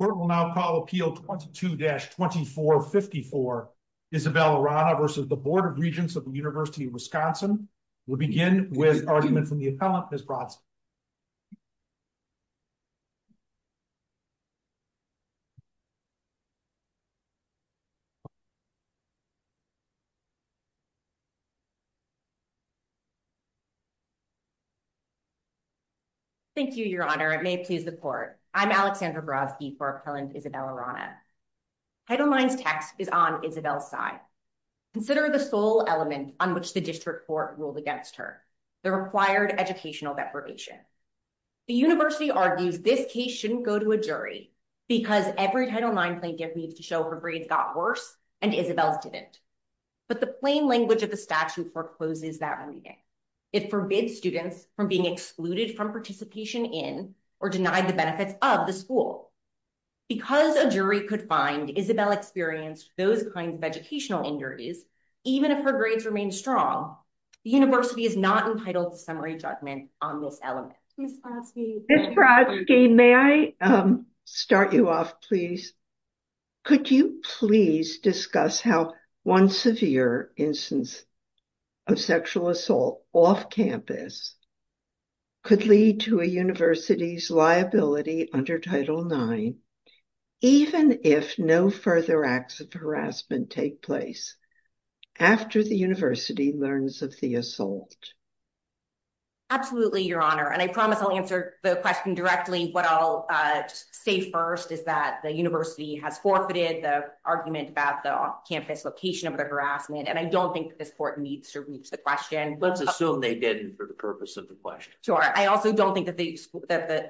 The court will now call Appeal 22-2454, Isabelle Arana v. Board of Regents of the University of Wisconsin. We'll begin with argument from the appellant, Ms. Bronson. Thank you, Your Honor. It may please the court. I'm Alexandra Brodsky for Appellant Isabelle Arana. Title IX's text is on Isabelle's side. Consider the sole element on which the district court ruled against her, the required educational deprivation. The University argues this case shouldn't go to a jury because every Title IX plaintiff needs to show her grades got worse and Isabelle's didn't. But the plain language of the statute forecloses that meaning. It forbids students from being excluded from participation in or denied the benefits of the school. Because a jury could find Isabelle experienced those kinds of educational injuries, even if her grades remain strong, the University is not entitled to summary judgment on this element. Ms. Brodsky, may I start you off, please? Could you please discuss how one severe instance of sexual assault off campus could lead to a university's liability under Title IX, even if no further acts of harassment take place after the university learns of the assault? Absolutely, Your Honor. And I promise I'll answer the question directly. What I'll say first is that the university has forfeited the argument about the off-campus location of the harassment. And I don't think this court needs to reach the question. Let's assume they didn't for the purpose of the question. Sure. I also don't think that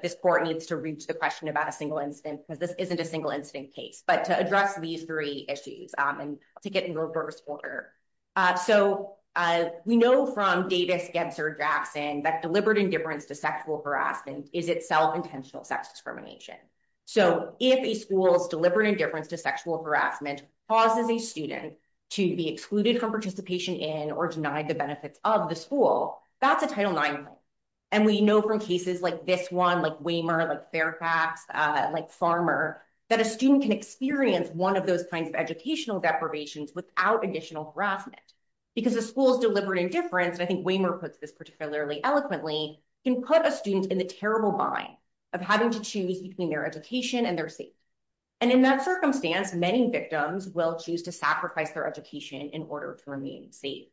this court needs to reach the question about a single incident because this isn't a single incident case. But to address these three issues and to get in reverse order. So we know from Davis, Gebser, Jackson, that deliberate indifference to sexual harassment is itself intentional sex discrimination. So if a school's deliberate indifference to sexual harassment causes a student to be excluded from participation in or denied the benefits of the school, that's a Title IX claim. And we know from cases like this one, like Waymer, like Fairfax, like Farmer, that a student can experience one of those kinds of educational deprivations without additional harassment. Because the school's deliberate indifference, and I think Waymer puts this particularly eloquently, can put a student in the terrible bind of having to choose between their education and their safety. And in that circumstance, many victims will choose to sacrifice their education in order to remain safe.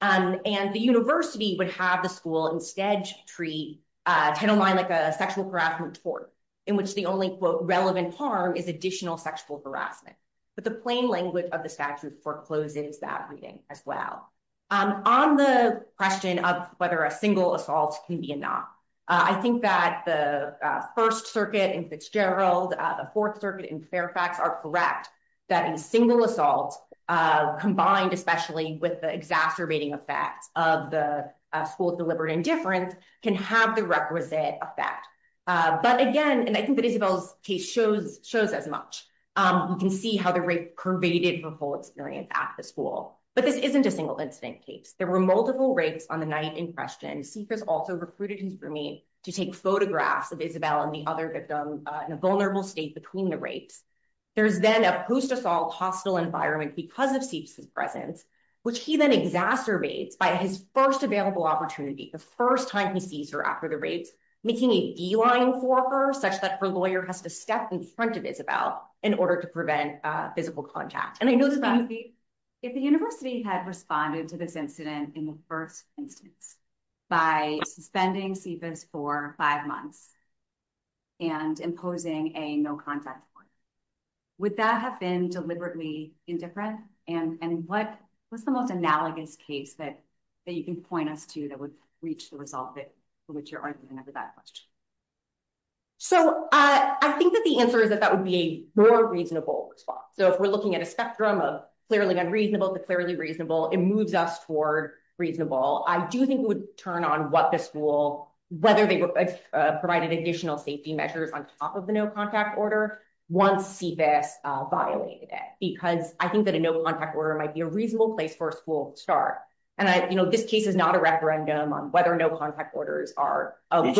And the university would have the school instead treat Title IX like a sexual harassment tort, in which the only quote relevant harm is additional sexual harassment. But the plain language of the statute forecloses that reading as well. On the question of whether a single assault can be enough, I think that the First Circuit in Fitzgerald, the Fourth Circuit in Fairfax are correct that a single assault, combined especially with the exacerbating effects of the school's deliberate indifference, can have the requisite effect. But again, and I think that Isabel's case shows as much, you can see how the rape pervaded her whole experience at the school. But this isn't a single incident case. There were multiple rapes on the night in question. Seif has also recruited his roomie to take photographs of Isabel and the other victim in a vulnerable state between the rapes. There's then a post-assault hostile environment because of Seif's presence, which he then exacerbates by his first available opportunity, the first time he sees her after the rapes, making a beeline for her such that her lawyer has to step in front of Isabel in order to prevent physical contact. If the university had responded to this incident in the first instance by suspending Seif for five months and imposing a no contact form, would that have been deliberately indifferent? And what was the most analogous case that you can point us to that would reach the result for which you're arguing over that question? So I think that the answer is that that would be a more reasonable response. So if we're looking at a spectrum of clearly unreasonable to clearly reasonable, it moves us toward reasonable. I do think it would turn on what the school, whether they provided additional safety measures on top of the no contact order, once Seif S violated it, because I think that a no contact order might be a reasonable place for a school to start. And this case is not a referendum on whether no contact orders are. Did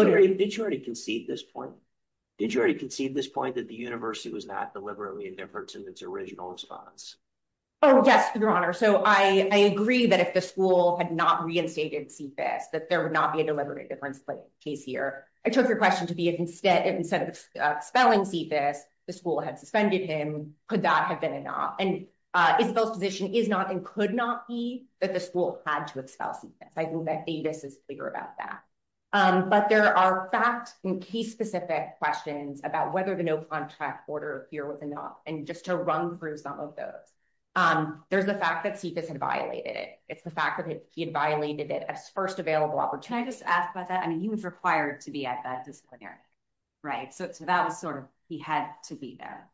you already concede this point? Did you already concede this point that the university was not deliberately indifferent in its original response? Oh, yes, Your Honor. So I agree that if the school had not reinstated Seif, that there would not be a deliberate indifference case here. I took your question to be if instead of expelling Seif, the school had suspended him. Could that have been enough? And if those position is not and could not be that the school had to expel Seif. I think that Davis is clear about that. But there are fact and case specific questions about whether the no contact order here was enough. And just to run through some of those. There's the fact that Seif had violated it. It's the fact that he had violated it as first available opportunity. Can I just ask about that? I mean, he was required to be at that disciplinary. Right. So that was sort of he had to be there.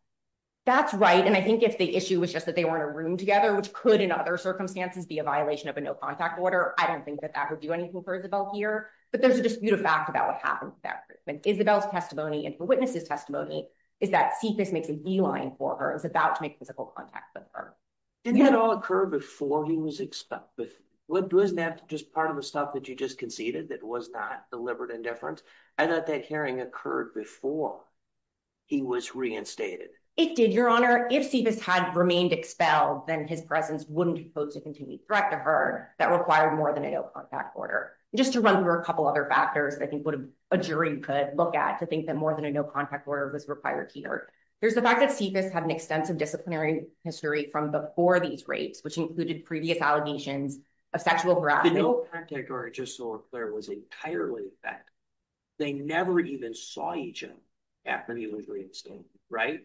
That's right. And I think if the issue was just that they were in a room together, which could, in other circumstances, be a violation of a no contact order, I don't think that that would do anything for Isabel here. But there's a dispute of fact about what happened. Isabel's testimony and the witness's testimony is that Seif makes a beeline for her, is about to make physical contact with her. Didn't it all occur before he was expelled? Wasn't that just part of the stuff that you just conceded that was not deliberate indifference? I thought that hearing occurred before he was reinstated. It did, Your Honor. If Seif had remained expelled, then his presence wouldn't pose a continued threat to her that required more than a no contact order. Just to run through a couple other factors, I think what a jury could look at to think that more than a no contact order was required here. There's the fact that Seif had an extensive disciplinary history from before these rapes, which included previous allegations of sexual harassment. The no contact order, just so we're clear, was entirely a fact. They never even saw each other after he was reinstated, right?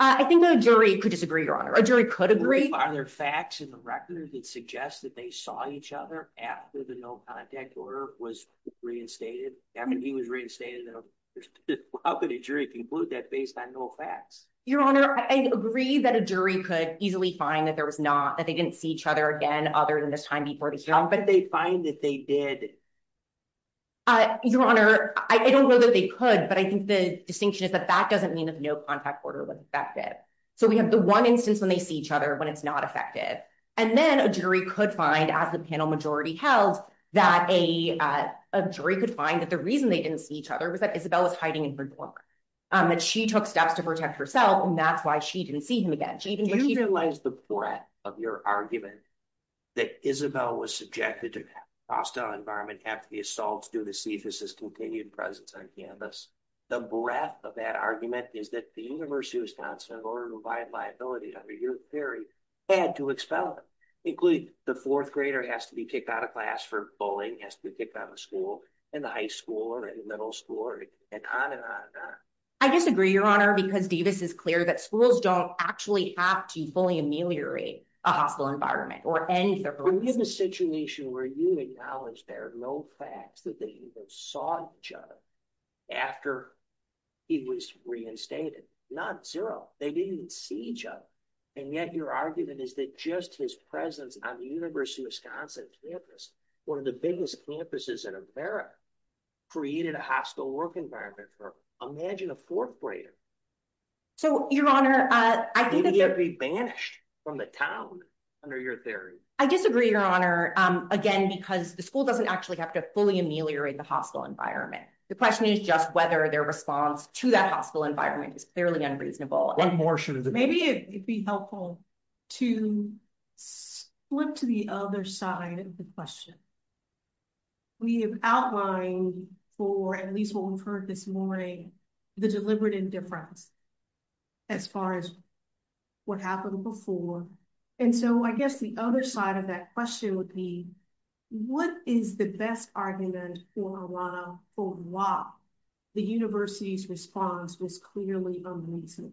I think the jury could disagree, Your Honor. A jury could agree. Are there facts in the record that suggest that they saw each other after the no contact order was reinstated? I mean, he was reinstated. How could a jury conclude that based on no facts? Your Honor, I agree that a jury could easily find that they didn't see each other again other than this time before the hearing. How could they find that they did? Your Honor, I don't know that they could, but I think the distinction is that that doesn't mean that no contact order was effective. So we have the one instance when they see each other when it's not effective. And then a jury could find, as the panel majority held, that a jury could find that the reason they didn't see each other was that Isabel was hiding in her dorm. She took steps to protect herself, and that's why she didn't see him again. Do you realize the breadth of your argument that Isabel was subjected to hostile environment after the assaults due to Seif's continued presence on campus? The breadth of that argument is that the University of Wisconsin, in order to provide liability under your theory, had to expel her. Including the fourth grader has to be kicked out of class for bullying, has to be kicked out of school, and the high school or the middle school, and on and on and on. I disagree, Your Honor, because Davis is clear that schools don't actually have to fully ameliorate a hostile environment. We live in a situation where you acknowledge there are no facts that they even saw each other after he was reinstated. Not zero. They didn't see each other. And yet your argument is that just his presence on the University of Wisconsin campus, one of the biggest campuses in America, created a hostile work environment for him. Imagine a fourth grader. So, Your Honor, I think it would be banished from the town under your theory. I disagree, Your Honor, again, because the school doesn't actually have to fully ameliorate the hostile environment. The question is just whether their response to that hostile environment is fairly unreasonable. Maybe it'd be helpful to flip to the other side of the question. We have outlined for, at least what we've heard this morning, the deliberate indifference as far as what happened before. And so I guess the other side of that question would be, what is the best argument for why the university's response was clearly unreasonable?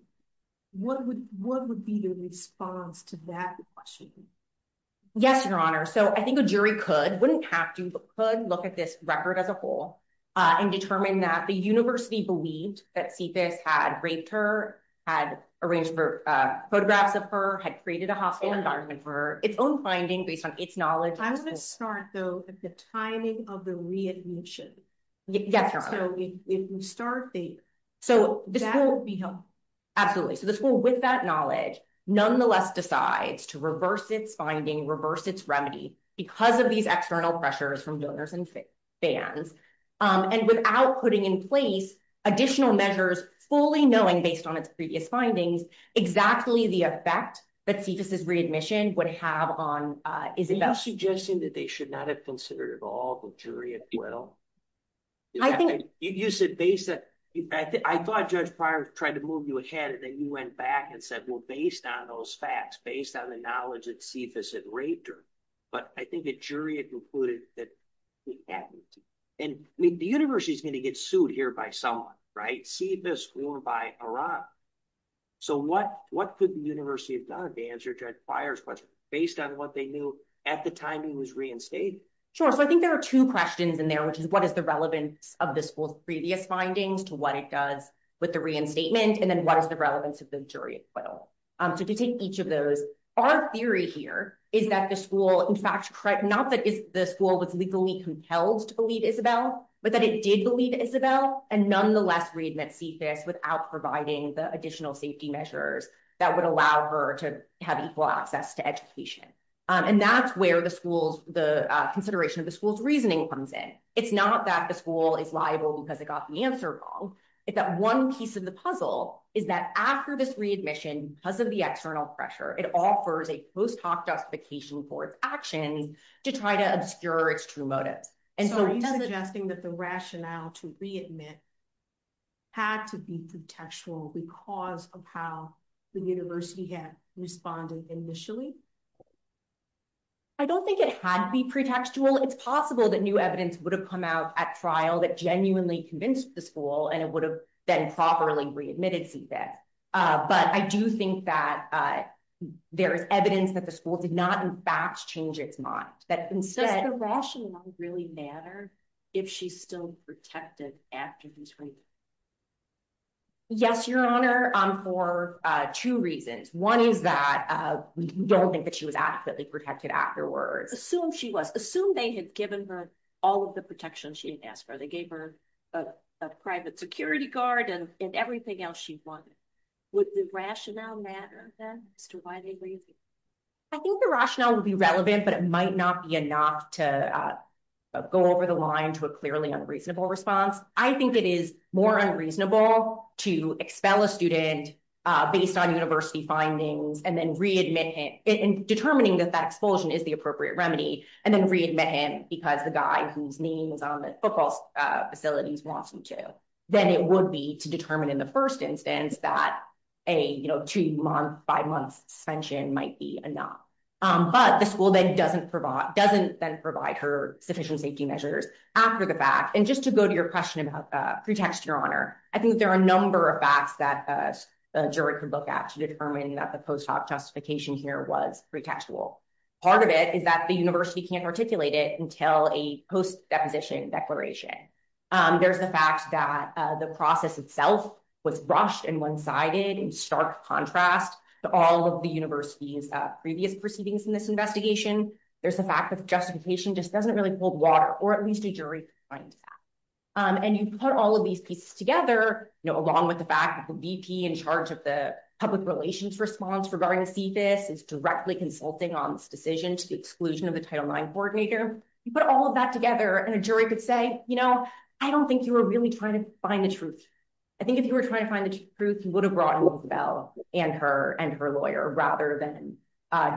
What would be the response to that question? Yes, Your Honor. So I think a jury could, wouldn't have to, but could look at this record as a whole and determine that the university believed that Cephas had raped her, had arranged for photographs of her, had created a hostile environment for her, its own finding based on its knowledge. I want to start, though, with the timing of the readmission. Yes, Your Honor. So if we start there, that would be helpful. Absolutely. So the school, with that knowledge, nonetheless decides to reverse its finding, reverse its remedy because of these external pressures from donors and fans. And without putting in place additional measures, fully knowing, based on its previous findings, exactly the effect that Cephas' readmission would have on Isabel. Are you suggesting that they should not have considered at all the jury as well? You said based on, I thought Judge Pryor tried to move you ahead and then you went back and said, well, based on those facts, based on the knowledge that Cephas had raped her. But I think the jury had concluded that he hadn't. And the university is going to get sued here by someone, right? Cephas, we were by Iraq. So what could the university have done to answer Judge Pryor's question, based on what they knew at the time he was reinstated? Sure. So I think there are two questions in there, which is what is the relevance of the school's previous findings to what it does with the reinstatement? And then what is the relevance of the jury acquittal? So to take each of those, our theory here is that the school, in fact, not that the school was legally compelled to believe Isabel, but that it did believe Isabel and nonetheless read Cephas without providing the additional safety measures that would allow her to have equal access to education. And that's where the school's, the consideration of the school's reasoning comes in. It's not that the school is liable because it got the answer wrong. It's that one piece of the puzzle is that after this readmission, because of the external pressure, it offers a post hoc justification for its actions to try to obscure its true motives. And so are you suggesting that the rationale to readmit had to be pretextual because of how the university had responded initially? I don't think it had to be pretextual. It's possible that new evidence would have come out at trial that genuinely convinced the school and it would have been properly readmitted Cephas. But I do think that there is evidence that the school did not, in fact, change its mind. Does the rationale really matter if she's still protected after this reading? Yes, Your Honor, for two reasons. One is that we don't think that she was adequately protected afterwards. Assume she was. Assume they had given her all of the protection she had asked for. They gave her a private security guard and everything else she wanted. Would the rationale matter then as to why they raised it? I think the rationale would be relevant, but it might not be enough to go over the line to a clearly unreasonable response. I think it is more unreasonable to expel a student based on university findings and then readmit it and determining that that expulsion is the appropriate remedy and then readmit him because the guy whose name is on the football facilities wants him to. Then it would be to determine in the first instance that a two month, five month suspension might be enough. But the school then doesn't provide, doesn't then provide her sufficient safety measures after the fact. And just to go to your question about pretext, Your Honor, I think there are a number of facts that a jury can look at to determine that the post hoc justification here was pretextual. Part of it is that the university can't articulate it until a post deposition declaration. There's the fact that the process itself was brushed and one sided in stark contrast to all of the university's previous proceedings in this investigation. There's the fact that justification just doesn't really hold water, or at least a jury can find that. And you put all of these pieces together, along with the fact that the VP in charge of the public relations response regarding CFIS is directly consulting on this decision to the exclusion of the Title IX coordinator. You put all of that together, and a jury could say, you know, I don't think you were really trying to find the truth. I think if you were trying to find the truth, you would have brought in Rockefeller and her and her lawyer rather than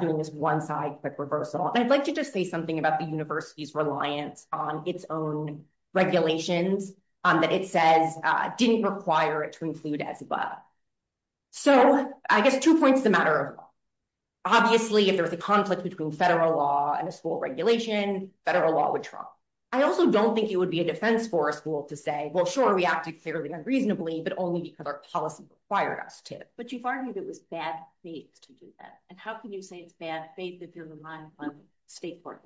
doing this one side quick reversal. I'd like to just say something about the university's reliance on its own regulations that it says didn't require it to include as well. So, I guess two points the matter of law. Obviously, if there's a conflict between federal law and a school regulation, federal law would trump. I also don't think it would be a defense for a school to say, well, sure, we acted fairly unreasonably, but only because our policy required us to. But you've argued it was bad faith to do that. And how can you say it's bad faith if you're relying on state court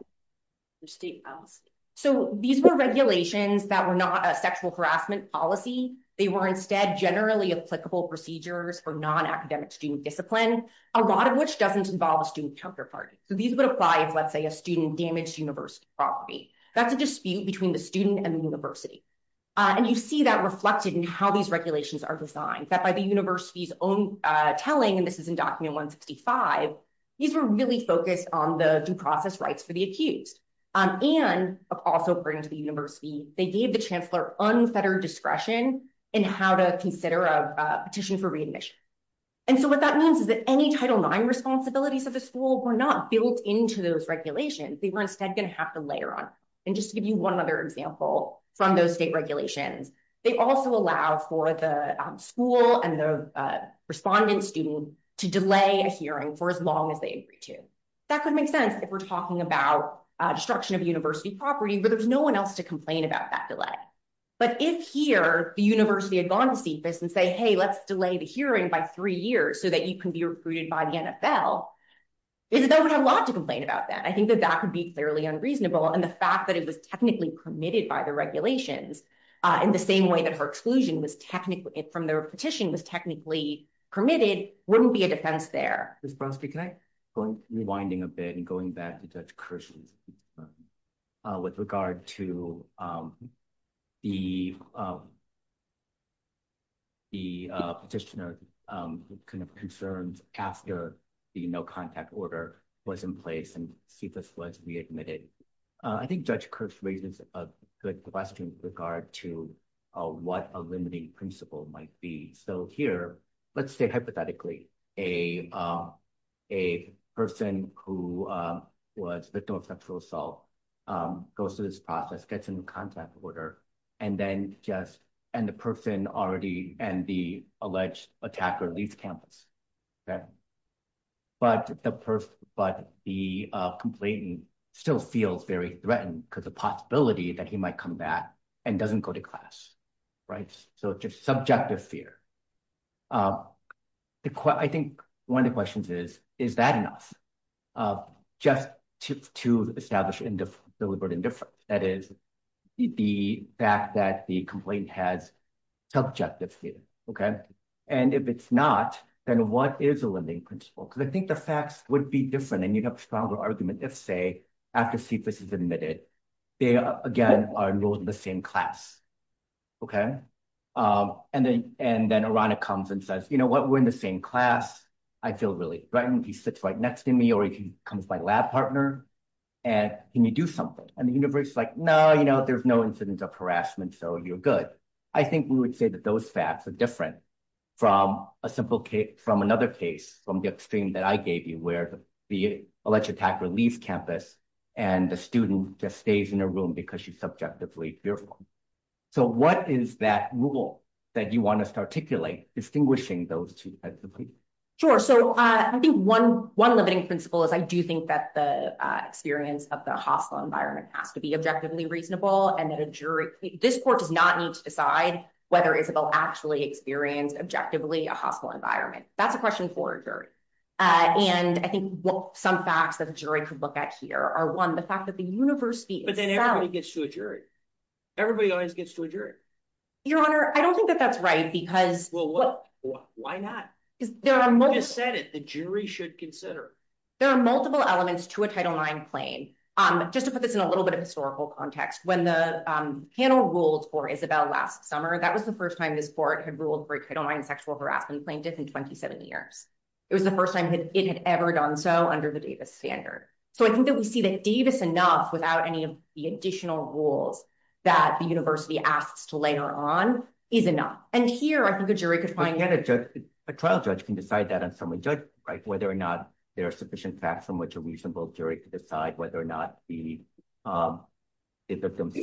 or state policy? So, these were regulations that were not a sexual harassment policy. They were instead generally applicable procedures for non-academic student discipline, a lot of which doesn't involve a student counterparty. So, these would apply if, let's say, a student damaged university property. That's a dispute between the student and the university. And you see that reflected in how these regulations are designed. That by the university's own telling, and this is in document 165, these were really focused on the due process rights for the accused. And also according to the university, they gave the chancellor unfettered discretion in how to consider a petition for readmission. And so, what that means is that any Title IX responsibilities of the school were not built into those regulations. They were instead going to have to layer on. And just to give you one other example from those state regulations, they also allow for the school and the respondent student to delay a hearing for as long as they agree to. That could make sense if we're talking about destruction of university property where there's no one else to complain about that delay. But if here, the university had gone to see this and say, hey, let's delay the hearing by three years so that you can be recruited by the NFL, is that we have a lot to complain about that. I think that that would be clearly unreasonable. And the fact that it was technically permitted by the regulations in the same way that her exclusion from the petition was technically permitted wouldn't be a defense there. Ms. Brodsky, can I point, rewinding a bit and going back to Judge Kirsch's question with regard to the petitioner concerns after the no contact order was in place and CFS was readmitted. I think Judge Kirsch raises a good question with regard to what a limiting principle might be. So here, let's say hypothetically, a person who was a victim of sexual assault goes through this process, gets into contact order, and then just, and the person already, and the alleged attacker leaves campus. But the person, but the complainant still feels very threatened because the possibility that he might come back and doesn't go to class. Right. So just subjective fear. I think one of the questions is, is that enough? Just to establish deliberate indifference, that is, the fact that the complainant has subjective fear. Okay. And if it's not, then what is a limiting principle? Because I think the facts would be different and you'd have a stronger argument if, say, after CFS is admitted, they again are enrolled in the same class. Okay. And then, and then Irana comes and says, you know what, we're in the same class. I feel really threatened. He sits right next to me or he comes by lab partner. And can you do something? And the university is like, no, you know, there's no incidence of harassment. So you're good. I think we would say that those facts are different from a simple case, from another case, from the extreme that I gave you where the alleged attacker leaves campus and the student just stays in a room because she's subjectively fearful. So what is that rule that you want us to articulate distinguishing those two? Sure. So I think one limiting principle is I do think that the experience of the hostile environment has to be objectively reasonable and that a jury, this court does not need to decide whether Isabel actually experienced objectively a hostile environment. That's a question for a jury. And I think some facts that a jury could look at here are one, the fact that the university. But then everybody gets to a jury. Everybody always gets to a jury. Your Honor, I don't think that that's right, because. Well, why not? You just said it. The jury should consider. There are multiple elements to a Title IX claim. Just to put this in a little bit of historical context, when the panel ruled for Isabel last summer, that was the first time this court had ruled for a Title IX sexual harassment plaintiff in 27 years. It was the first time it had ever done so under the Davis standard. So I think that we see that Davis enough without any of the additional rules that the university asks to later on is enough. And here I think a jury could find. A trial judge can decide that on summary judgment, right? Whether or not there are sufficient facts on which a reasonable jury could decide whether or not the victim's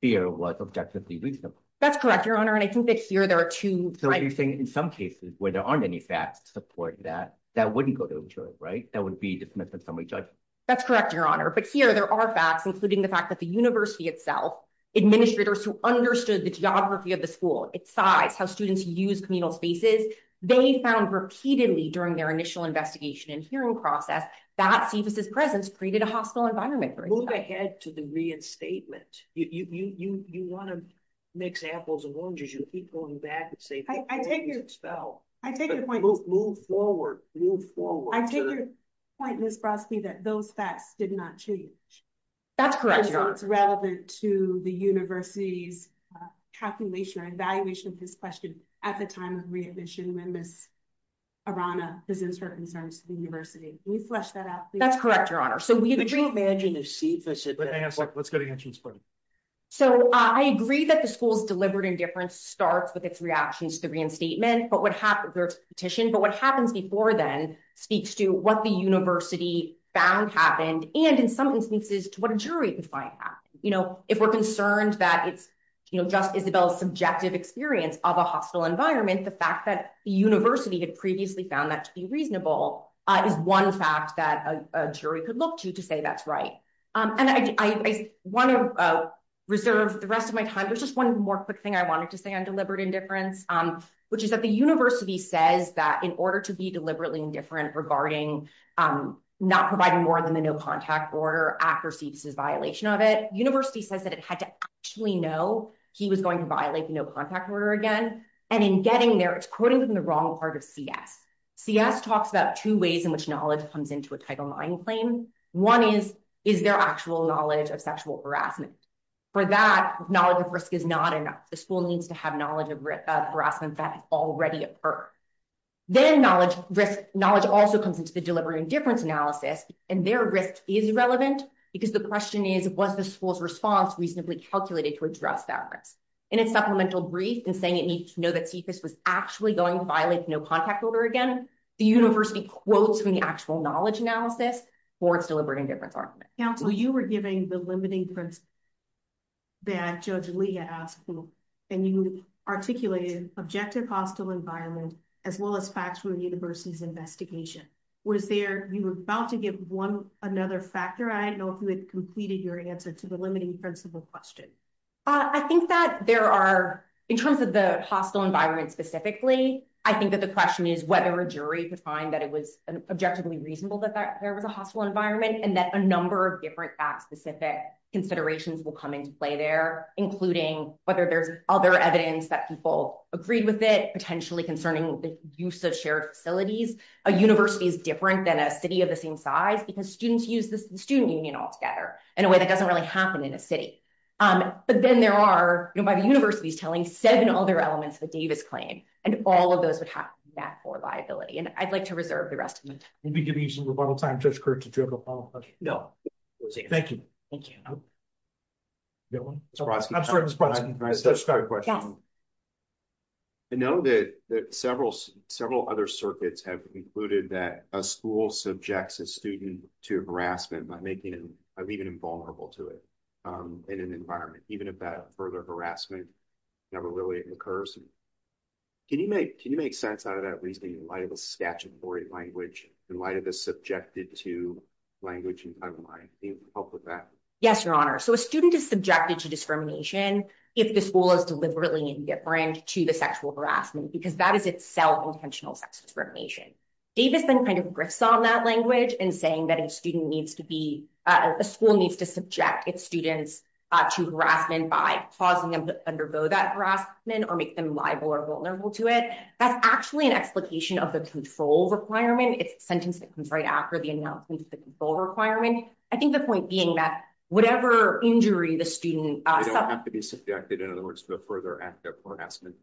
fear was objectively reasonable. That's correct, Your Honor. And I think that here there are two. So you're saying in some cases where there aren't any facts to support that, that wouldn't go to a jury, right? That would be dismissed on summary judgment. That's correct, Your Honor. But here there are facts, including the fact that the university itself, administrators who understood the geography of the school, its size, how students use communal spaces, they found repeatedly during their initial investigation and hearing process, that CFS's presence created a hostile environment. Move ahead to the reinstatement. You want to mix apples and oranges. You keep going back and say. I take your point. Move forward. Move forward. I take your point, Ms. Brodsky, that those facts did not change. That's correct, Your Honor. So it's relevant to the university's calculation or evaluation of this question at the time of readmission when Ms. Arana presents her concerns to the university. Can you flesh that out, please? That's correct, Your Honor. So we imagine this. Let's go to you. So I agree that the school's deliberate indifference starts with its reactions to the reinstatement, but what happens before then speaks to what the university found happened. And in some instances to what a jury can find out, you know, if we're concerned that it's just Isabel subjective experience of a hostile environment, the fact that the university had previously found that to be reasonable. Is one fact that a jury could look to to say that's right. And I want to reserve the rest of my time. There's just one more quick thing I wanted to say on deliberate indifference, which is that the university says that in order to be deliberately indifferent regarding not providing more than the no contact order after CFS's violation of it, the university says that it had to actually know he was going to violate the no contact order again. And in getting there, it's quoting from the wrong part of CS. CS talks about two ways in which knowledge comes into a title IX claim. One is, is there actual knowledge of sexual harassment? For that, knowledge of risk is not enough. The school needs to have knowledge of harassment that has already occurred. Then knowledge, knowledge also comes into the deliberate indifference analysis, and their risk is relevant because the question is, was the school's response reasonably calculated to address that risk? In its supplemental brief and saying it needs to know that CFS was actually going to violate the no contact order again, the university quotes from the actual knowledge analysis for its deliberate indifference argument. Counsel, you were giving the limiting principle that Judge Leah asked, and you articulated objective hostile environment, as well as facts from the university's investigation. Was there, you were about to give one another factor, I don't know if you had completed your answer to the limiting principle question. I think that there are, in terms of the hostile environment specifically, I think that the question is whether a jury could find that it was objectively reasonable that there was a hostile environment, and that a number of different facts specific considerations will come into play there, including whether there's other evidence that people agreed with it, potentially concerning the use of shared facilities. A university is different than a city of the same size, because students use the student union altogether, in a way that doesn't really happen in a city. But then there are, by the university's telling, seven other elements of a Davis claim, and all of those would have backdoor liability, and I'd like to reserve the rest of my time. We'll be giving you some rebuttal time, Judge Kirk, did you have a follow up question? No. Thank you. Thank you. I'm sorry, Mr. Brodsky, can I ask a question? Yes. I know that several other circuits have concluded that a school subjects a student to harassment by making them even invulnerable to it in an environment, even if that further harassment never really occurs. Can you make sense out of that, at least in light of a statutory language, in light of this subjected to language, I don't mind. Can you help with that? Yes, Your Honor. So a student is subjected to discrimination, if the school is deliberately indifferent to the sexual harassment because that is itself intentional sex discrimination. Davis then kind of grips on that language and saying that a student needs to be a school needs to subject its students to harassment by causing them to undergo that harassment or make them liable or vulnerable to it. That's actually an explication of the control requirement. It's sentence that comes right after the announcement of the requirement. I think the point being that whatever injury the student has to be subjected, in other words, to a further act of harassment.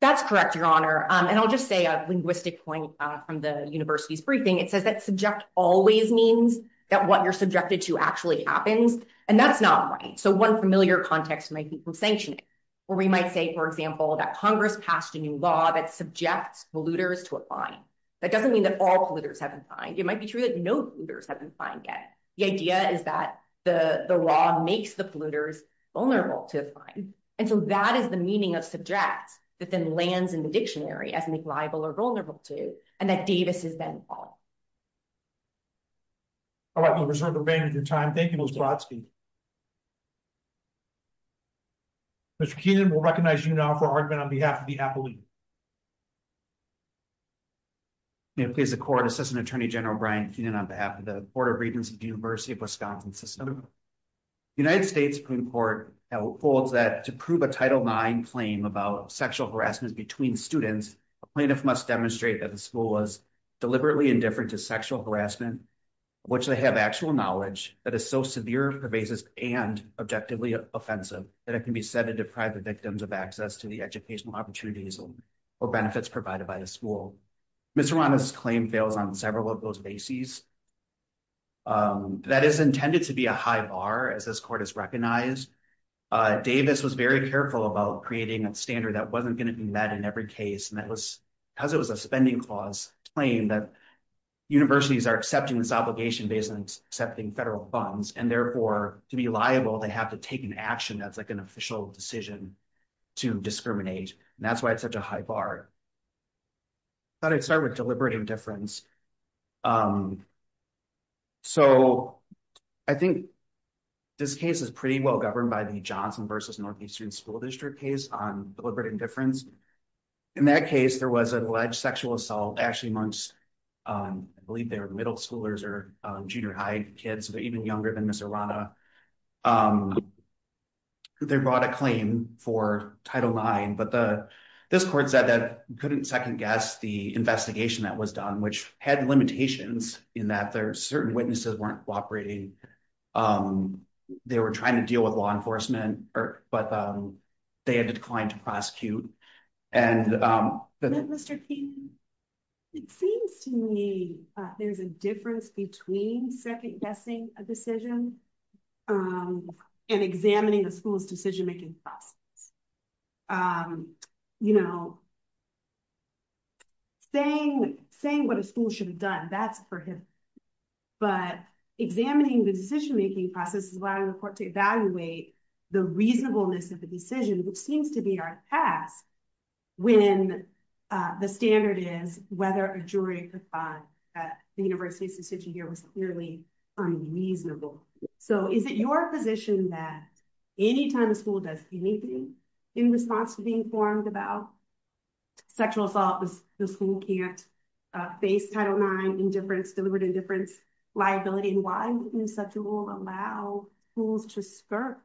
That's correct, Your Honor. And I'll just say a linguistic point from the university's briefing. It says that subject always means that what you're subjected to actually happens. And that's not right. So one familiar context might be from sanctioning, where we might say, for example, that Congress passed a new law that subjects polluters to a fine. That doesn't mean that all polluters have been fined. It might be true that no polluters have been fined yet. The idea is that the law makes the polluters vulnerable to a fine. And so that is the meaning of subject that then lands in the dictionary as make liable or vulnerable to and that Davis is then following. All right, we'll reserve the remainder of your time. Thank you, Ms. Brodsky. Mr. Keenan, we'll recognize you now for argument on behalf of the appellee. May it please the court, Assistant Attorney General Brian Keenan on behalf of the Board of Regents of the University of Wisconsin System. The United States Supreme Court holds that to prove a Title IX claim about sexual harassment between students, a plaintiff must demonstrate that the school was deliberately indifferent to sexual harassment, which they have actual knowledge that is so severe, pervasive and objectively offensive that it can be said to deprive the victims of access to the educational opportunities or benefits provided by the school. Mr. Rwanda's claim fails on several of those bases. That is intended to be a high bar as this court has recognized. Davis was very careful about creating a standard that wasn't going to be met in every case. And that was because it was a spending clause claim that universities are accepting this obligation based on accepting federal funds. And therefore, to be liable, they have to take an action that's like an official decision to discriminate. And that's why it's such a high bar. I thought I'd start with deliberative indifference. So, I think this case is pretty well governed by the Johnson versus Northeastern School District case on deliberate indifference. In that case, there was alleged sexual assault actually amongst, I believe they were middle schoolers or junior high kids, so they're even younger than Mr. Rwanda. They brought a claim for Title IX, but this court said that couldn't second guess the investigation that was done, which had limitations in that there are certain witnesses weren't cooperating. They were trying to deal with law enforcement, but they had declined to prosecute. Mr. King, it seems to me there's a difference between second guessing a decision and examining the school's decision-making process. Saying what a school should have done, that's for him. But examining the decision-making process is allowing the court to evaluate the reasonableness of the decision, which seems to be our task, when the standard is whether a jury could find that the university's decision here was clearly unreasonable. So, is it your position that anytime a school does anything in response to being informed about sexual assault, the school can't face Title IX indifference, deliberate indifference, liability, and why would such a rule allow schools to skirt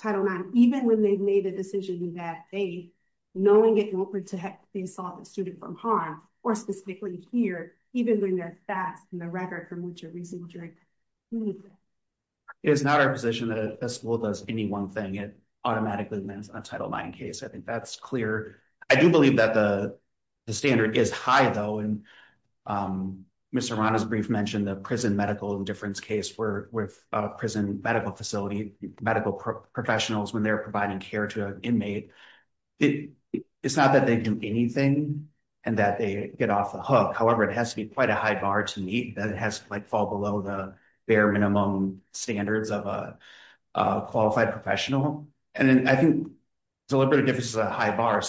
Title IX, even when they've made the decision that they, knowing it won't protect the assault student from harm, or specifically here, even when they're fast and the record from which a reasonable jury can prove it? It's not our position that if a school does any one thing, it automatically wins a Title IX case. I think that's clear. I do believe that the standard is high, though. Mr. Arana's brief mentioned the prison medical indifference case with prison medical facility, medical professionals when they're providing care to an inmate. It's not that they do anything and that they get off the hook. However, it has to be quite a high bar to meet. It has to fall below the bare minimum standards of a qualified professional. I think deliberate indifference is a high bar.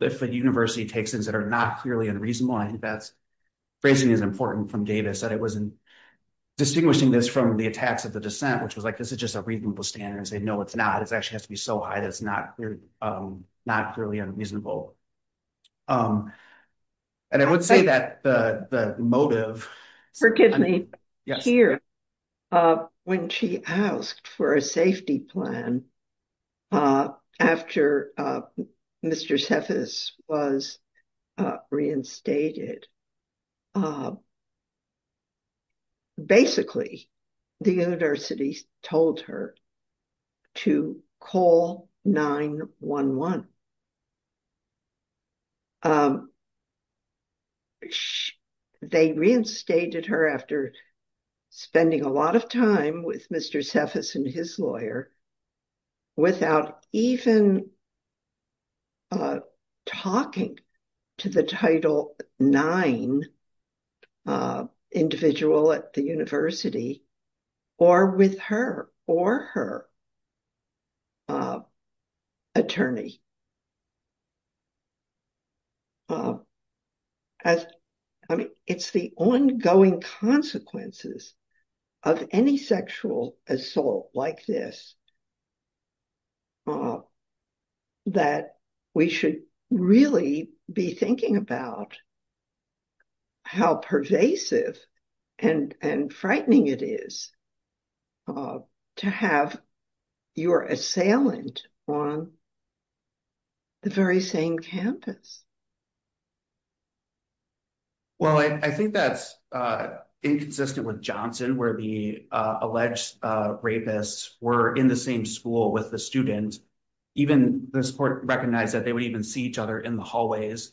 If a university takes things that are not clearly unreasonable, I think that phrasing is important from Davis, that it wasn't distinguishing this from the attacks of the dissent, which was like, this is just a reasonable standard, and say, no, it's not. It actually has to be so high that it's not clearly unreasonable. And I would say that the motive— Forgive me. Here, when she asked for a safety plan after Mr. Cephas was reinstated, basically, the university told her to call 911. They reinstated her after spending a lot of time with Mr. Cephas and his lawyer without even talking to the Title IX individual at the university or with her or her attorney. I mean, it's the ongoing consequences of any sexual assault like this that we should really be thinking about how pervasive and frightening it is to have your assailant on the very same campus. Well, I think that's inconsistent with Johnson, where the alleged rapists were in the same school with the student. Even this court recognized that they would even see each other in the hallways,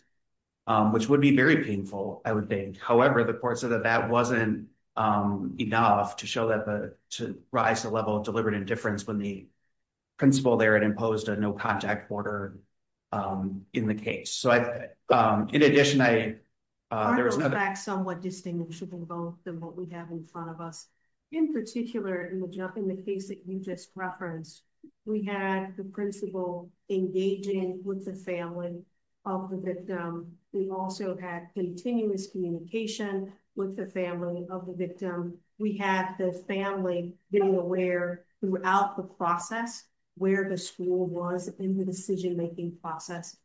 which would be very painful, I would think. However, the court said that that wasn't enough to show that the— to rise to the level of deliberate indifference when the principal there had imposed a no-contact order in the case. So, in addition, I— I would put back somewhat distinguishable both of what we have in front of us. In particular, in the case that you just referenced, we had the principal engaging with the family of the victim. We also had continuous communication with the family of the victim. We had the family being aware throughout the process where the school was in the decision-making process.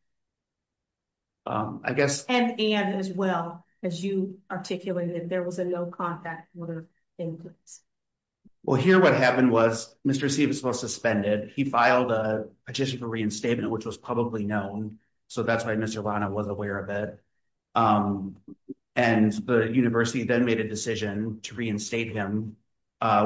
I guess— And as well, as you articulated, there was a no-contact order in place. Well, here what happened was Mr. Sievers was suspended. He filed a petition for reinstatement, which was publicly known. So, that's why Mr. Lana was aware of it. And the university then made a decision to reinstate him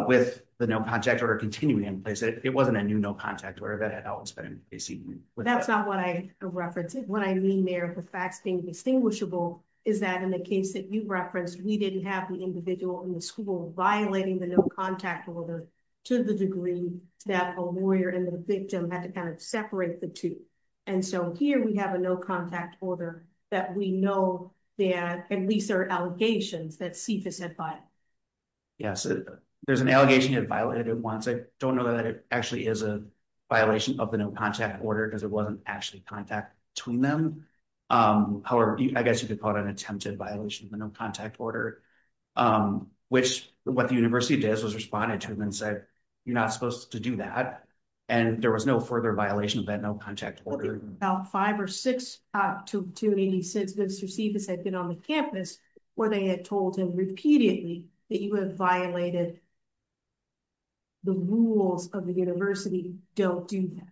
with the no-contact order continuing in place. It wasn't a new no-contact order that had always been in place. That's not what I referenced. What I mean there with the facts being distinguishable is that in the case that you referenced, we didn't have the individual in the school violating the no-contact order to the degree that a lawyer and the victim had to kind of separate the two. And so, here we have a no-contact order that we know that at least there are allegations that Sievers had violated. Yes, there's an allegation he had violated it once. I don't know that it actually is a violation of the no-contact order because it wasn't actually contact between them. However, I guess you could call it an attempted violation of the no-contact order, which what the university did was responded to him and said, you're not supposed to do that. And there was no further violation of that no-contact order. About five or six to 86, Mr. Sievers had been on the campus where they had told him repeatedly that you have violated the rules of the university. Don't do that.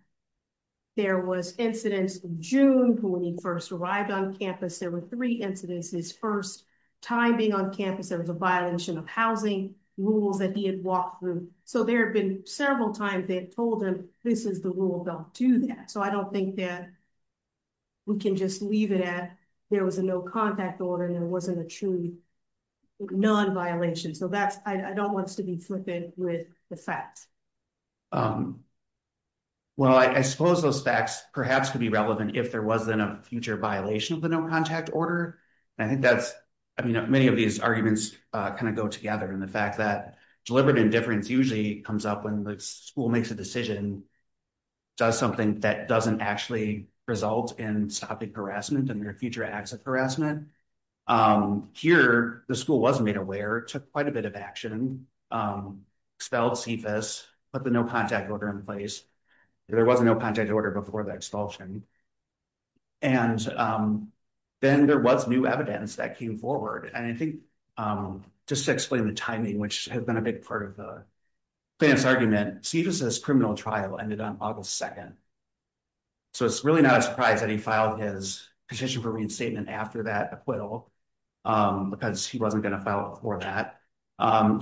There was incidents in June when he first arrived on campus. There were three incidents. His first time being on campus, there was a violation of housing rules that he had walked through. So there have been several times they've told him, this is the rule, don't do that. So I don't think that we can just leave it at there was a no-contact order and there wasn't a true non-violation. So that's, I don't want us to be flipping with the facts. Well, I suppose those facts perhaps could be relevant if there wasn't a future violation of the no-contact order. And I think that's, I mean, many of these arguments kind of go together and the fact that deliberate indifference usually comes up when the school makes a decision, does something that doesn't actually result in stopping harassment and their future acts of harassment. Here, the school was made aware, took quite a bit of action, expelled Sievers, put the no-contact order in place. There was a no-contact order before the expulsion. And then there was new evidence that came forward. And I think just to explain the timing, which has been a big part of the fan's argument, Sievers' criminal trial ended on August 2nd. So it's really not a surprise that he filed his petition for reinstatement after that acquittal because he wasn't going to file it before that.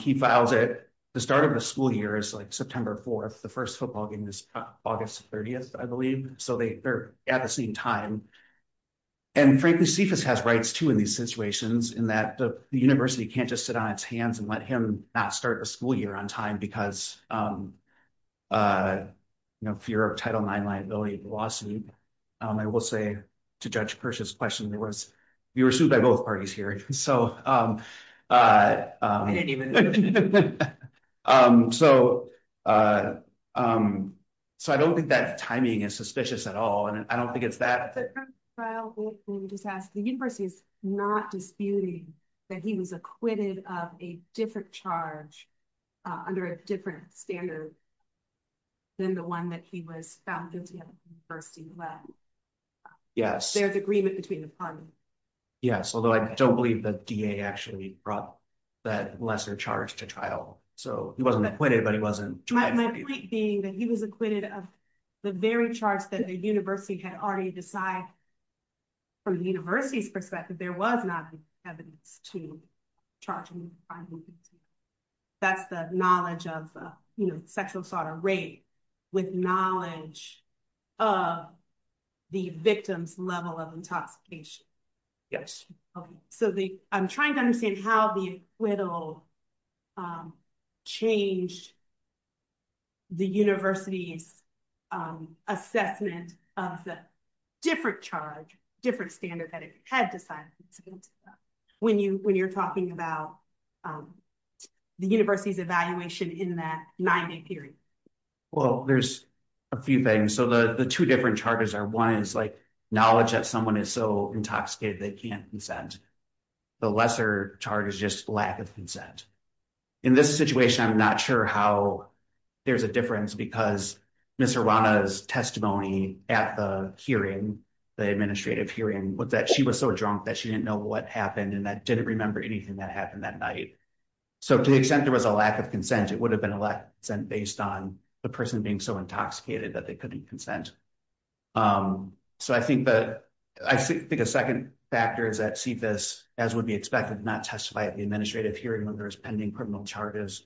He files it, the start of the school year is like September 4th. The first football game is August 30th, I believe. So they're at the same time. And frankly, Sievers has rights too in these situations in that the university can't just sit on its hands and let him not start the school year on time because of fear of Title IX liability of the lawsuit. I will say to Judge Kirsch's question, we were sued by both parties here. So I don't think that timing is suspicious at all. And I don't think it's that. The university is not disputing that he was acquitted of a different charge under a different standard than the one that he was found guilty of. There's agreement between the parties. Yes, although I don't believe that DA actually brought that lesser charge to trial. So he wasn't acquitted, but he wasn't. My point being that he was acquitted of the very charge that the university had already decided from the university's perspective, there was not evidence to charge him with a fine. That's the knowledge of sexual assault or rape with knowledge of the victim's level of intoxication. Yes. Okay. So I'm trying to understand how the acquittal changed the university's assessment of the different charge, different standard that it had decided. When you're talking about the university's evaluation in that nine-day period. Well, there's a few things. So the two different charges are, one is knowledge that someone is so intoxicated they can't consent. The lesser charge is just lack of consent. In this situation, I'm not sure how there's a difference because Ms. Urwana's testimony at the hearing, the administrative hearing was that she was so drunk that she didn't know what happened and that didn't remember anything that happened that night. So to the extent there was a lack of consent, it would have been a lack of consent based on the person being so intoxicated that they couldn't consent. So I think a second factor is that he did not speak this as would be expected, not testify at the administrative hearing when there was pending criminal charges.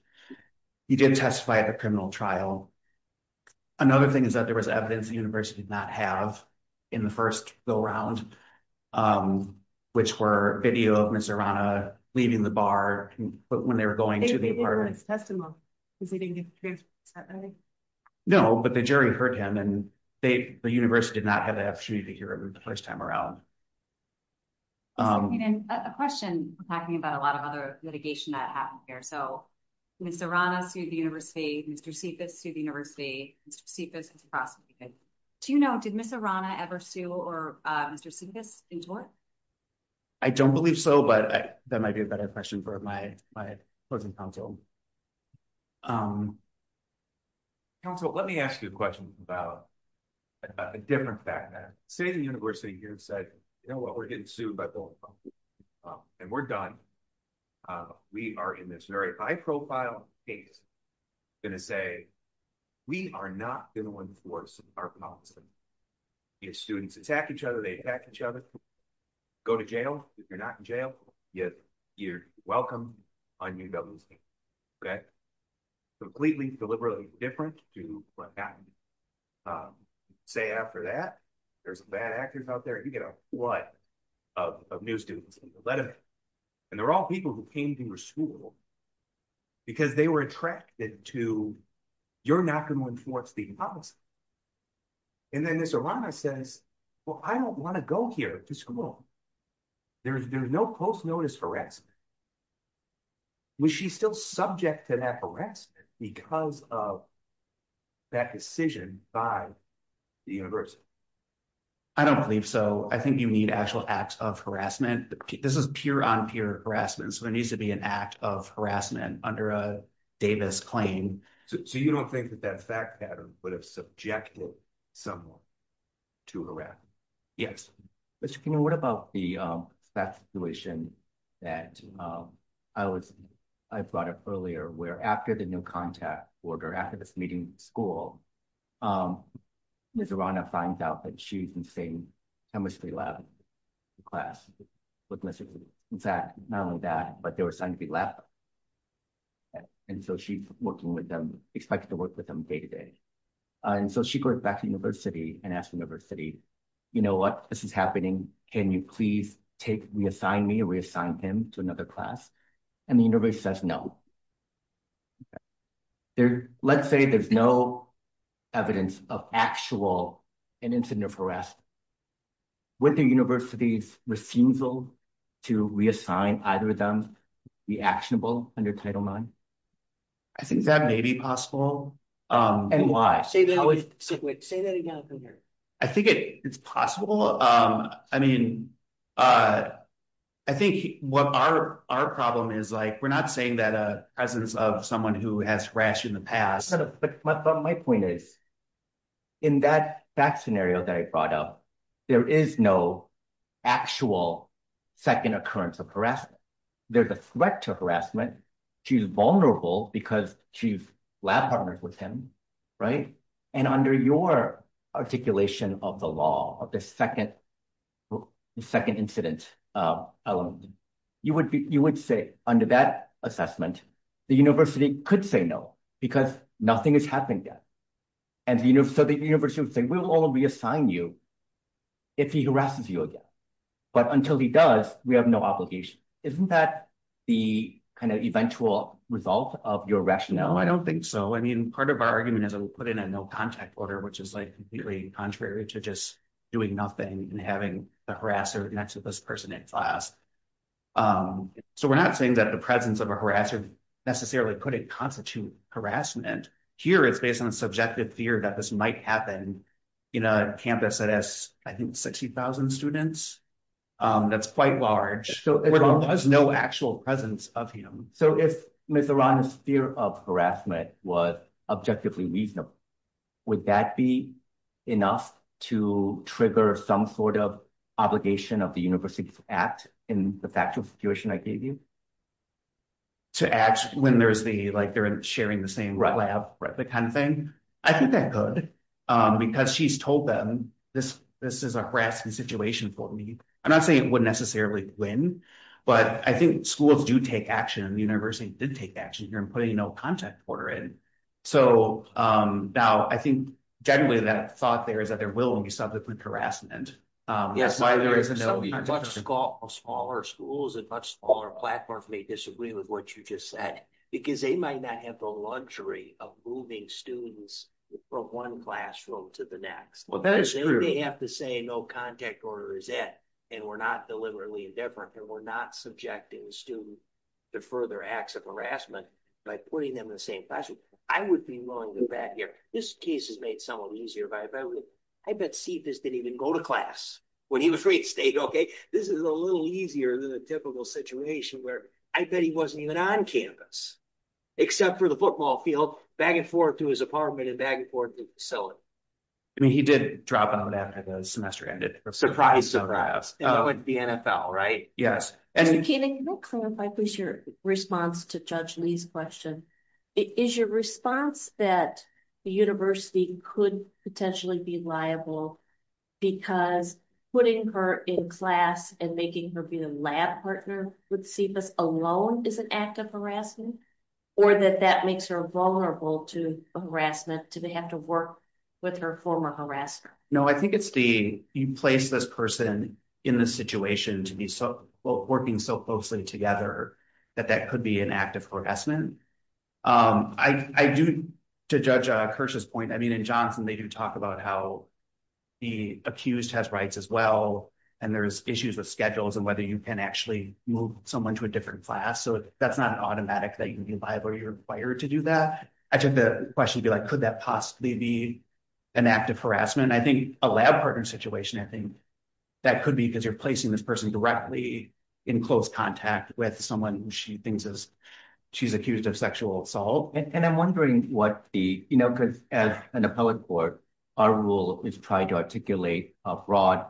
He did testify at the criminal trial. Another thing is that there was evidence the university did not have in the first go-round, which were video of Ms. Urwana leaving the bar when they were going to the apartment. They didn't hear Ms. Urwana's testimony because they didn't get to hear her testimony. No, but the jury heard him and the university did not have the opportunity to hear her the first time around. And a question, we're talking about a lot of other litigation that happened here. So Ms. Urwana sued the university, Mr. Cephas sued the university, Mr. Cephas was prosecuted. Do you know, did Ms. Urwana ever sue or Mr. Cephas in court? I don't believe so, but that might be a better question for my closing counsel. Counsel, let me ask you a question about a different fact. Say the university here said, you know what, we're getting sued by Bill and Paul and we're done. We are in this very high profile case going to say, we are not going to enforce our policy. If students attack each other, they attack each other, go to jail. If you're not in jail, you're welcome on UW's campus, okay? Completely deliberately different to what happened at the University of Michigan. Say after that, there's bad actors out there, you get a flood of new students in the letter. And they're all people who came to your school because they were attracted to, you're not going to enforce the policy. And then Ms. Urwana says, well, I don't want to go here to school. There's no post-notice harassment. Was she still subject to that harassment because of that decision by the university? I don't believe so. I think you need actual acts of harassment. This is pure on pure harassment. So there needs to be an act of harassment under a Davis claim. So you don't think that that fact pattern would have subjected someone to harassment? Yes. Mr. King, what about the situation that I brought up earlier, where after the new contact order, after this meeting with the school, Ms. Urwana finds out that she's in the same chemistry lab class with Mr. King. Not only that, but they were assigned to be lab. And so she's working with them, expected to work with them day to day. And so she goes back to the university and asks the university, you know what, this is happening. Can you please reassign me or reassign him to another class? And the university says, no. Let's say there's no evidence of actual an incident of harassment. Would the university's refusal to reassign either of them be actionable under Title IX? I think that may be possible. And why? Say that again from here. I think it's possible. I mean, I think what our problem is like, we're not saying that a presence of someone who has harassed you in the past. But my point is, in that scenario that I brought up, there is no actual second occurrence of harassment. There's a threat to harassment. She's vulnerable because she's lab partners with him, right? And under your articulation of the law, of the second incident element, you would say under that assessment, the university could say no because nothing has happened yet. And so the university would say, we'll only reassign you if he harasses you again. But until he does, we have no obligation. Isn't that the kind of eventual result of your rationale? No, I don't think so. I mean, part of our argument is we'll put in a no contact order, which is completely contrary to just doing nothing and having the harasser next to this person in class. So we're not saying that the presence of a harasser necessarily couldn't constitute harassment. Here, it's based on a subjective fear that this might happen in a campus that has, I think, 60,000 students. That's quite large. There's no actual presence of him. So if Ms. Arana's fear of harassment was objectively reasonable, would that be enough to trigger some sort of obligation of the university to act in the factual situation I gave you? To act when they're sharing the same lab, the kind of thing? I think that could because she's told them, this is a harassing situation for me. I'm not saying it would necessarily win, but I think schools do take action, and the university did take action here in putting no contact order in. So now, I think generally that thought there is that there will be subject with harassment. Yes, there's a much smaller schools and much smaller platforms may disagree with what you just said because they might not have the luxury of moving students from one classroom to the next. Well, that is true. They may have to say no contact order is it, and we're not deliberately indifferent, and we're not subjecting the student to further acts of harassment by putting them in the same classroom. I would be willing to bet here, this case is made somewhat easier, but I bet Cephas didn't even go to class when he was free at State, okay? This is a little easier than a typical situation where I bet he wasn't even on campus, except for the football field, back and forth to his apartment and back and forth to the facility. I mean, he did drop out after the semester ended. Surprise, surprise. That would be NFL, right? Keenan, can you clarify, please, your response to Judge Lee's question? Is your response that the university could potentially be liable because putting her in class and making her be the lab partner with Cephas alone is an act of harassment, or that that makes her vulnerable to harassment to have to work with her former harasser? No, I think it's the, you place this person in this situation to be working so closely together that that could be an act of harassment. I do, to Judge Kirsch's point, I mean, in Johnson, they do talk about how the accused has rights as well, and there's issues with schedules and whether you can actually move someone to a different class. So that's not automatic that you can be liable or you're required to do that. I took the question to be like, could that possibly be an act of harassment? I think a lab partner situation, I think that could be because you're placing this person directly in close contact with someone who she thinks is, she's accused of sexual assault. And I'm wondering what the, you know, because as an appellate court, our rule is trying to articulate a broad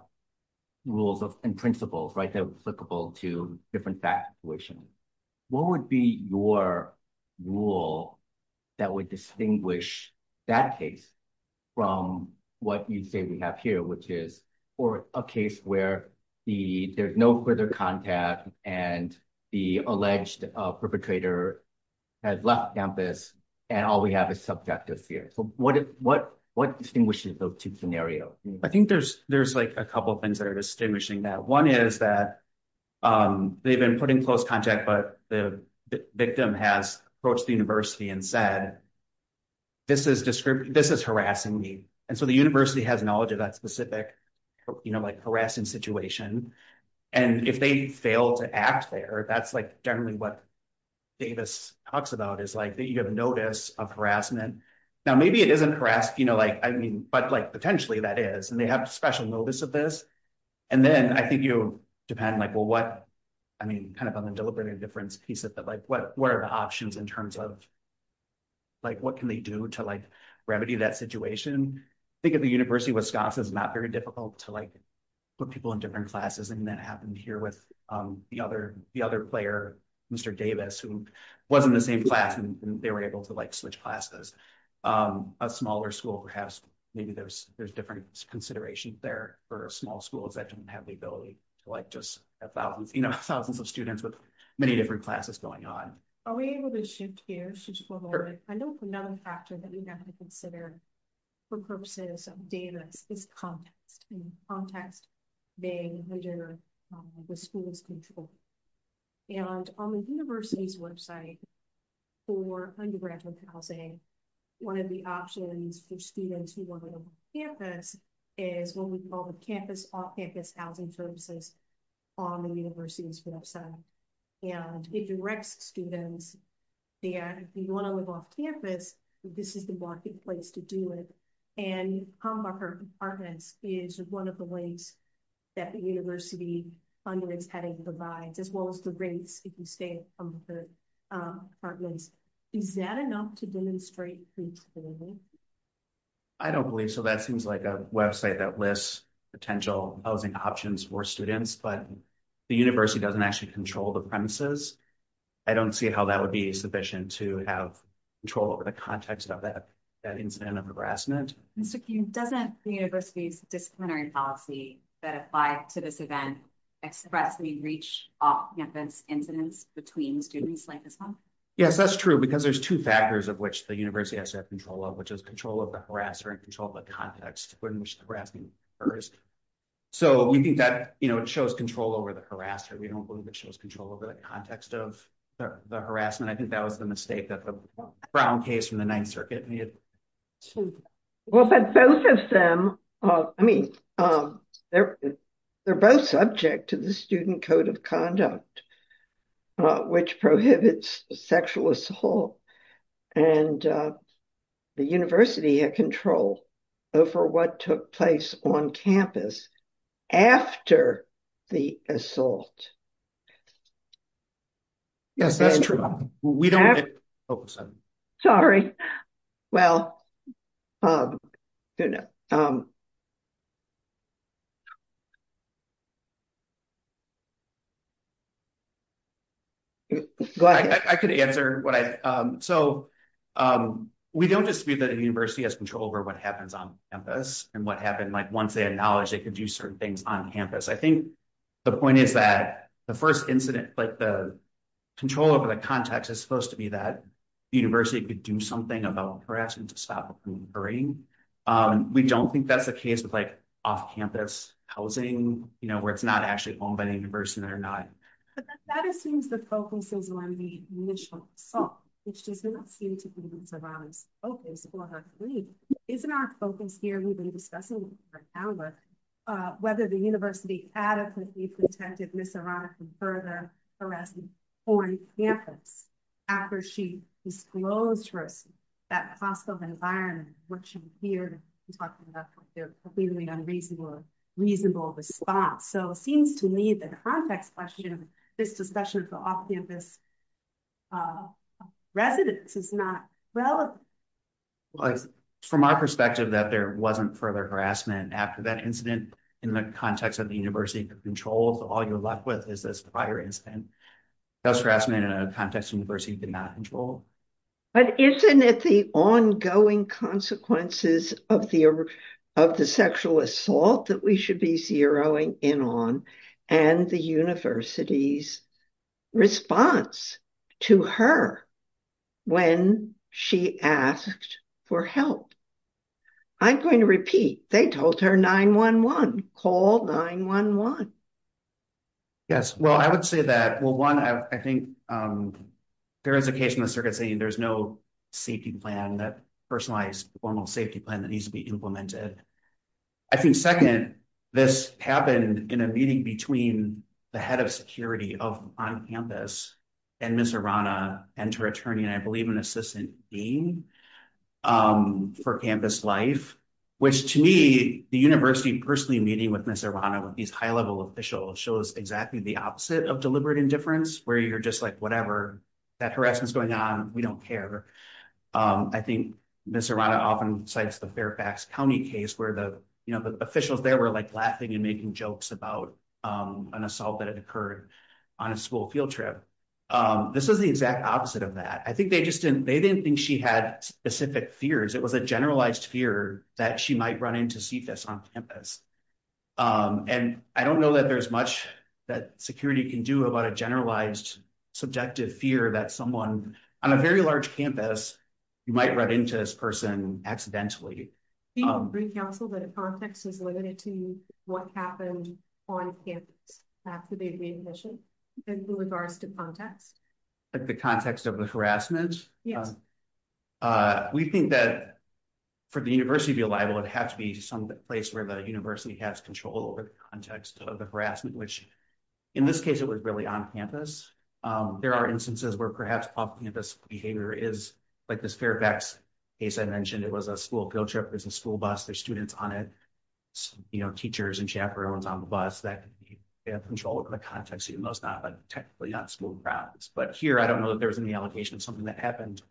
rules and principles, right? They're applicable to different fact situations. What would be your rule that would distinguish that case from what you'd say we have here, which is for a case where there's no further contact and the alleged perpetrator has left campus and all we have is subjective fear. So what distinguishes those two scenarios? I think there's like a couple of things that are distinguishing that. One is that they've been put in close contact, but the victim has approached the university and said, this is harassing me. And so the university has knowledge of that specific, you know, like harassing situation. And if they fail to act there, that's like generally what Davis talks about is like that you have notice of harassment. Now, maybe it isn't harassed, you know, like, I mean, but like potentially that is, and they have special notice of this. And then I think you depend like, well, what, I mean, kind of on the deliberative difference piece of that, like what are the options in terms of like, what can they do to like remedy that situation? I think at the university of Wisconsin, it's not very difficult to like put people in different classes. And that happened here with the other, the other player, Mr. Davis, who wasn't the same class and they were able to like switch classes. A smaller school, perhaps maybe there's, there's different considerations there for small schools that don't have the ability to like just have thousands, you know, many different classes going on. Are we able to shift here? I know another factor that we have to consider for purposes of Davis is context and context being under the school's control. And on the university's website for undergraduate housing, one of the options for students who want to go to campus is what we call the campus off-campus housing services on the university's website. And it directs students there. If you want to live off campus, this is the marketplace to do it. And Humbucker apartments is one of the ways that the university funding is heading provides, as well as the rates if you stay at Humbucker apartments. Is that enough to demonstrate? I don't believe so. That seems like a website that lists potential housing options for students, but the university doesn't actually control the premises. I don't see how that would be sufficient to have control over the context of that, that incident of harassment. Mr. King, doesn't the university's disciplinary policy that apply to this event expressly reach off-campus incidents between students like this one? Yes, that's true. Because there's two factors of which the university has to have control of, which is control of the harasser and control of the context. So we think that, you know, it shows control over the harasser. We don't believe it shows control over the context of the harassment. I think that was the mistake that the Brown case from the ninth circuit. Well, both of them, I mean, they're both subject to the student code of conduct, which prohibits sexual assault. And the university had control. Over what took place on campus. After the assault. Yes, that's true. We don't. Sorry. I could answer what I, so. We don't dispute that the university has control over what happens on campus and what happened, like once they had knowledge, they could do certain things on campus. I think the point is that the first incident, like the control over the context is supposed to be that. The university could do something about harassing to stop. We don't think that's the case with like off-campus housing. You know, where it's not actually owned by the university or not. I don't think that's the case. That assumes the focus is on the initial. Which does not seem to be. Okay. Isn't our focus here. We've been discussing. Whether the university adequately protected, Mr. On campus. Further harassing on campus. After she disclosed for us. That possible environment. Here. Completely unreasonable. Reasonable response. So it seems to me that. This discussion. Residence is not. Well, From my perspective that there wasn't further harassment after that incident. In the context of the university controls, all you're left with is this fire incident. That's grassman in a context university did not control. But isn't it the ongoing consequences of the. Of the sexual assault that we should be zeroing in on. And the universities. I'm going to repeat. They told her 911. Call 911. Yes. Well, I would say that. Well, one, I think. There is a case in the circuit saying there's no safety plan that personalized formal safety plan that needs to be implemented. I think second, this happened in a meeting between. The head of security of on campus. And Mr. Rana and her attorney, and I believe an assistant dean. For campus life. Which to me, the university personally meeting with Mr. Rana with these high-level officials show us exactly the opposite of deliberate indifference where you're just like, whatever. That harassment is going on. We don't care. I think. Mr. Rana often cites the Fairfax County case where the, you know, the officials there were like laughing and making jokes about an assault that had occurred. On a school field trip. This is the exact opposite of that. I think they just didn't, they didn't think she had specific fears. It was a generalized fear that she might run into CFS on campus. And I don't know that there's much that security can do about a generalized subjective fear that someone on a very large campus. You might run into this person accidentally. Council that. Context is limited to what happened. On campus. After the admission. In regards to context. Like the context of the harassment. Yes. We think that. For the university to be liable, it has to be some place where the university has control over the context of the harassment, which. In this case, it was really on campus. There are instances where perhaps off campus behavior is like this Fairfax. As I mentioned, it was a school field trip. There's a school bus. There's students on it. You know, teachers and chaperones on the bus that. I don't know. Control over the context. But here, I don't know that there was any allocation of something that happened.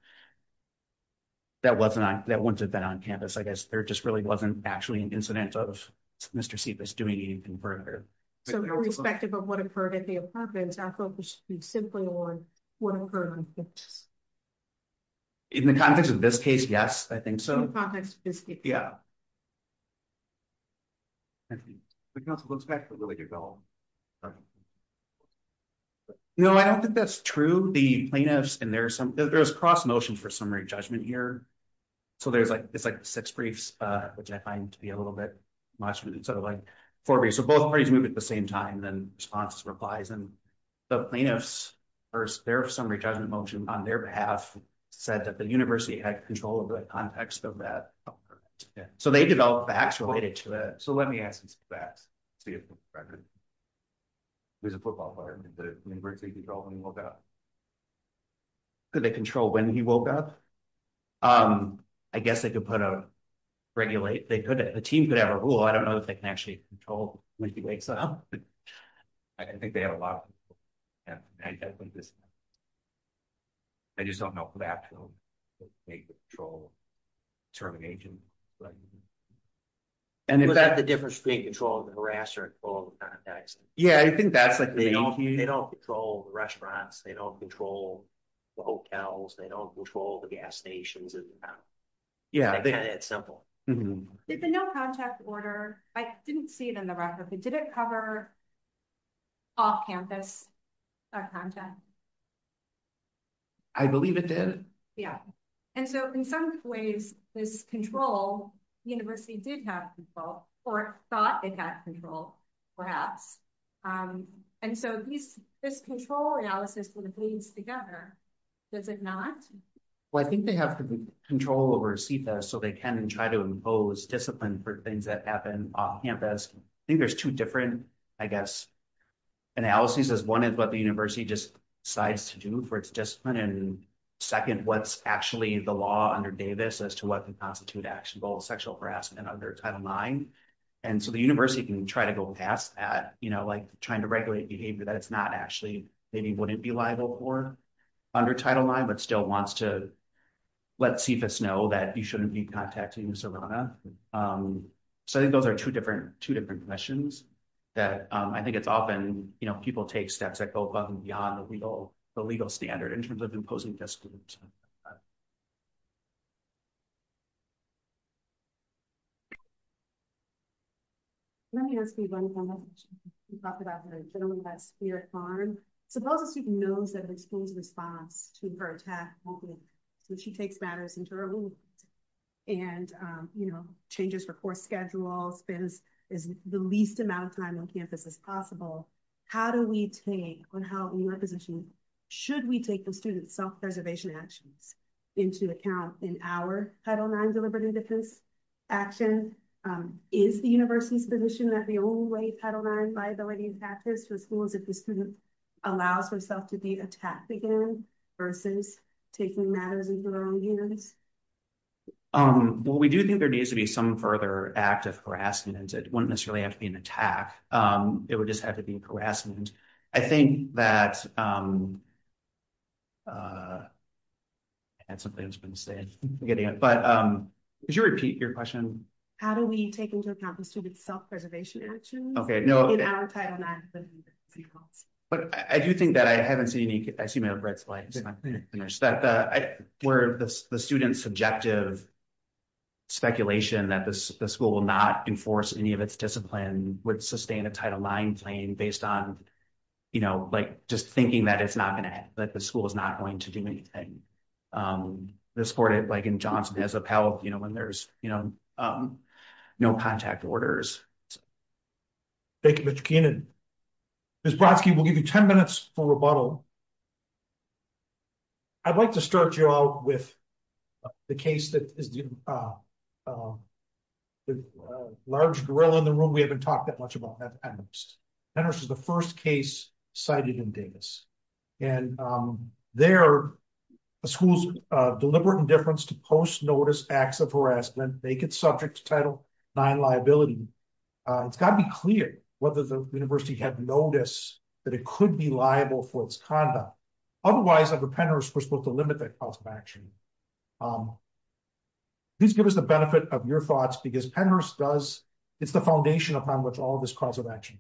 That wasn't on that. Once it's been on campus, I guess. There just really wasn't actually an incident of. Mr. Sebas doing anything further. Respective of what occurred at the apartments. Simply one. In the context of this case. Yes. I think so. I don't think that's true. The plaintiffs and there's some. There's cross motion for summary judgment here. So there's like, it's like six briefs. And then there's a summary judgment motion. Which I find to be a little bit. Sort of like. So both parties move at the same time, then response replies. And the plaintiffs. There are some retirement motion on their behalf said that the university had control of the context of that. So they developed the actual. So, let me ask you some facts. There's a football player. When he woke up. Did they control when he woke up? I guess I could put a. Regulate. The team could ever rule. I don't know if they can actually control. I think they have a lot. I just don't know. I don't know. I don't know. Make the troll. Termination. And the difference between controlling the harasser. Yeah, I think that's like. They don't control the restaurants. They don't control. The hotels, they don't control the gas stations. Yeah. It's simple. I didn't see it in the record, but did it cover. I believe it did. Yeah. And so in some ways, there's control. The university did have. Or thought it had control. Perhaps. And so. This control analysis. Together. Does it not. Well, I think they have to be. I think there's two different, I guess. Analysis is one is what the university just decides to do for its discipline. And second, what's actually the law under Davis as to what the constitute action goals, sexual harassment under title nine. And so the university can try to go past that, you know, and say, you know, trying to regulate behavior that it's not actually. Maybe wouldn't be liable for. Under title nine, but still wants to. Let's see if it's know that you shouldn't be contacting. So I think those are two different, two different questions. That I think it's often, you know, people take steps that go above and beyond the legal, the legal standard in terms of imposing discipline. Let me ask you one. We talked about. We're at farm. Suppose a student knows that. Response to her attack. So she takes matters into her own. And, you know, changes her course schedule. If all spends is the least amount of time on campus as possible. How do we take on how your position? Should we take the students self preservation actions? Into account in our title nine deliberative defense. Action. Is the university's position that the old way. I don't mind viability. It was fooled as if the student allows herself to be attacked again. Versus taking matters into their own hands. Um, well, we do think there needs to be some further active harassment. It wouldn't necessarily have to be an attack. Um, it would just have to be harassment. I think that. Uh, That's something that's been saying. But, um, could you repeat your question? How do we take into account the student self preservation action? Okay. No. But I do think that I haven't seen any. I see my red slides. Where the students subjective. Speculation that the school will not enforce any of its discipline. Would sustain a title nine playing based on. You know, like, just thinking that it's not going to, that the school is not going to do anything. Um, the sport, like in Johnson has a pal. You know, when there's, you know, No contact orders. Thank you. Ms. Brodsky, we'll give you 10 minutes for rebuttal. I'd like to start you out with. The case that is. The large grill in the room. We haven't talked that much about that. And this is the 1st case cited in Davis. And there. The school's deliberate indifference to post notice acts of harassment. Make it subject to title. Nine liability. It's got to be clear. Whether the university had noticed. That it could be liable for its conduct. Otherwise. Please give us the benefit of your thoughts because Penrose does. It's the foundation upon which all of this cause of action.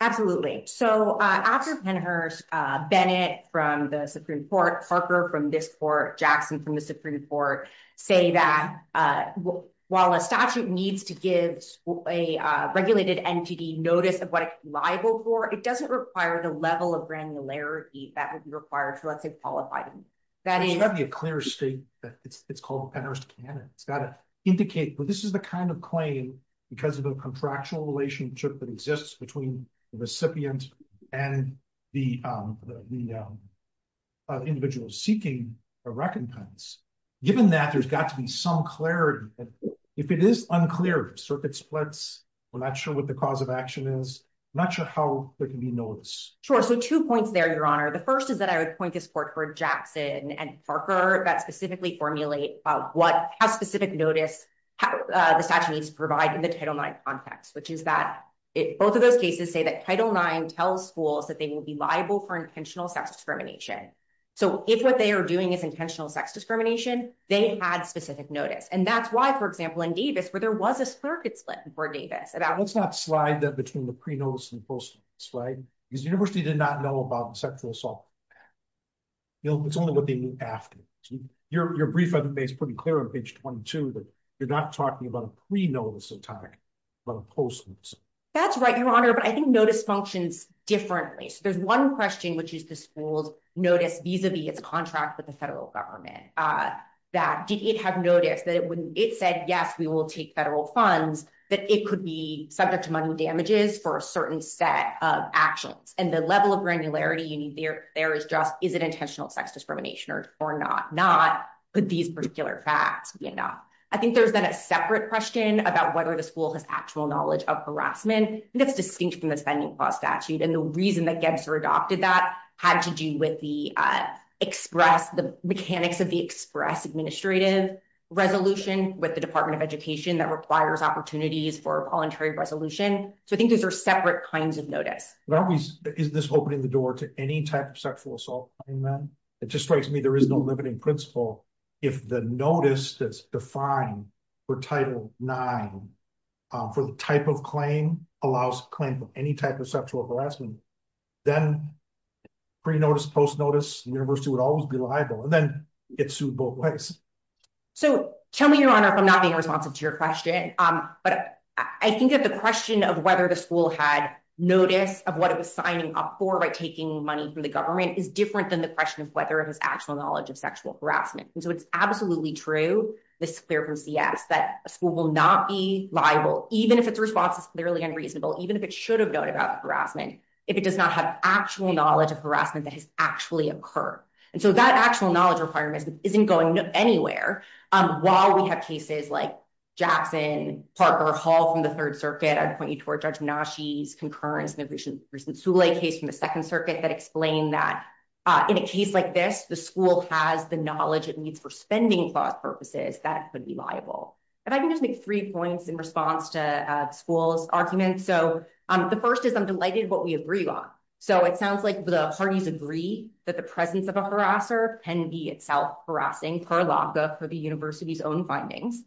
Absolutely. So after Penhurst. Bennett from the Supreme court Parker from this court, Jackson from the Supreme court. Say that. While a statute needs to give. A regulated entity notice of what liable for, it doesn't require the level of granularity that would be required. And it doesn't require the level of clarity that would be required. So let's say qualified. That is. A clear state. It's called. It's got to indicate, but this is the kind of claim. Because of the contractual relationship that exists between. The recipient. And the. Individual seeking a recompense. Given that there's got to be some clarity. If it is unclear. I'm not sure what the cause of action is. I'm not sure how there can be notes. Sure. So 2 points there. Your honor. The 1st is that I would point to support for Jackson and Parker. That specifically formulate. What has specific notice. The statute needs to provide in the title 9 context, which is that. Both of those cases say that title 9 tells schools that they will be liable for intentional sex discrimination. So if what they are doing is intentional sex discrimination. If it's not intentional sex discrimination. They had specific notice. And that's why, for example, in Davis, where there was a split. For Davis. Let's not slide that between the pre notice and post slide. Because the university did not know about sexual assault. You know, it's only what they knew after. You're you're brief on the base, pretty clear on page 22. You're not talking about a pre notice. You're not talking about a pre notice. You're talking about a post. That's right. Your honor. But I think notice functions differently. So there's 1 question, which is the schools. Notice vis-a-vis it's a contract with the federal government. That did it have noticed that it wouldn't, it said, yes, we will take federal funds. That it could be subject to money damages for a certain set of actions and the level of granularity you need. I think there's a separate question about whether the school has actual knowledge of harassment. That's distinct from the spending cost statute. And the reason that gets her adopted that had to do with the. Express the mechanics of the express administrative. Resolution with the department of education that requires opportunities for voluntary resolution. So I think those are separate kinds of notice. Is this opening the door to any type of sexual assault? Amen. It just strikes me. There is no limiting principle. If the notice that's defined. For title nine. For the type of claim allows claim. Any type of sexual harassment. Then. Pre notice post notice. The university would always be liable. It's sued both ways. So tell me your honor. I'm sorry. I'm not being responsive to your question. But I think that the question of whether the school had notice of what it was signing up for, right? Taking money from the government is different than the question of whether it was actual knowledge of sexual harassment. And so it's absolutely true. This clear from CS that a school will not be liable, even if it's response is clearly unreasonable, even if it should have known about the harassment. If it does not have actual knowledge of harassment that has actually occur. And so that actual knowledge requirement isn't going anywhere. While we have cases like. Jackson Parker hall from the third circuit. I'd point you toward judge. Now she's concurrence. Maybe we shouldn't. There's a case from the second circuit that explained that. In a case like this, the school has the knowledge. It needs for spending. That would be liable. If I can just make three points in response to schools arguments. So the first is I'm delighted what we agree on. So it sounds like the parties agree that the presence of a harasser can be itself harassing per log book for the university's own findings.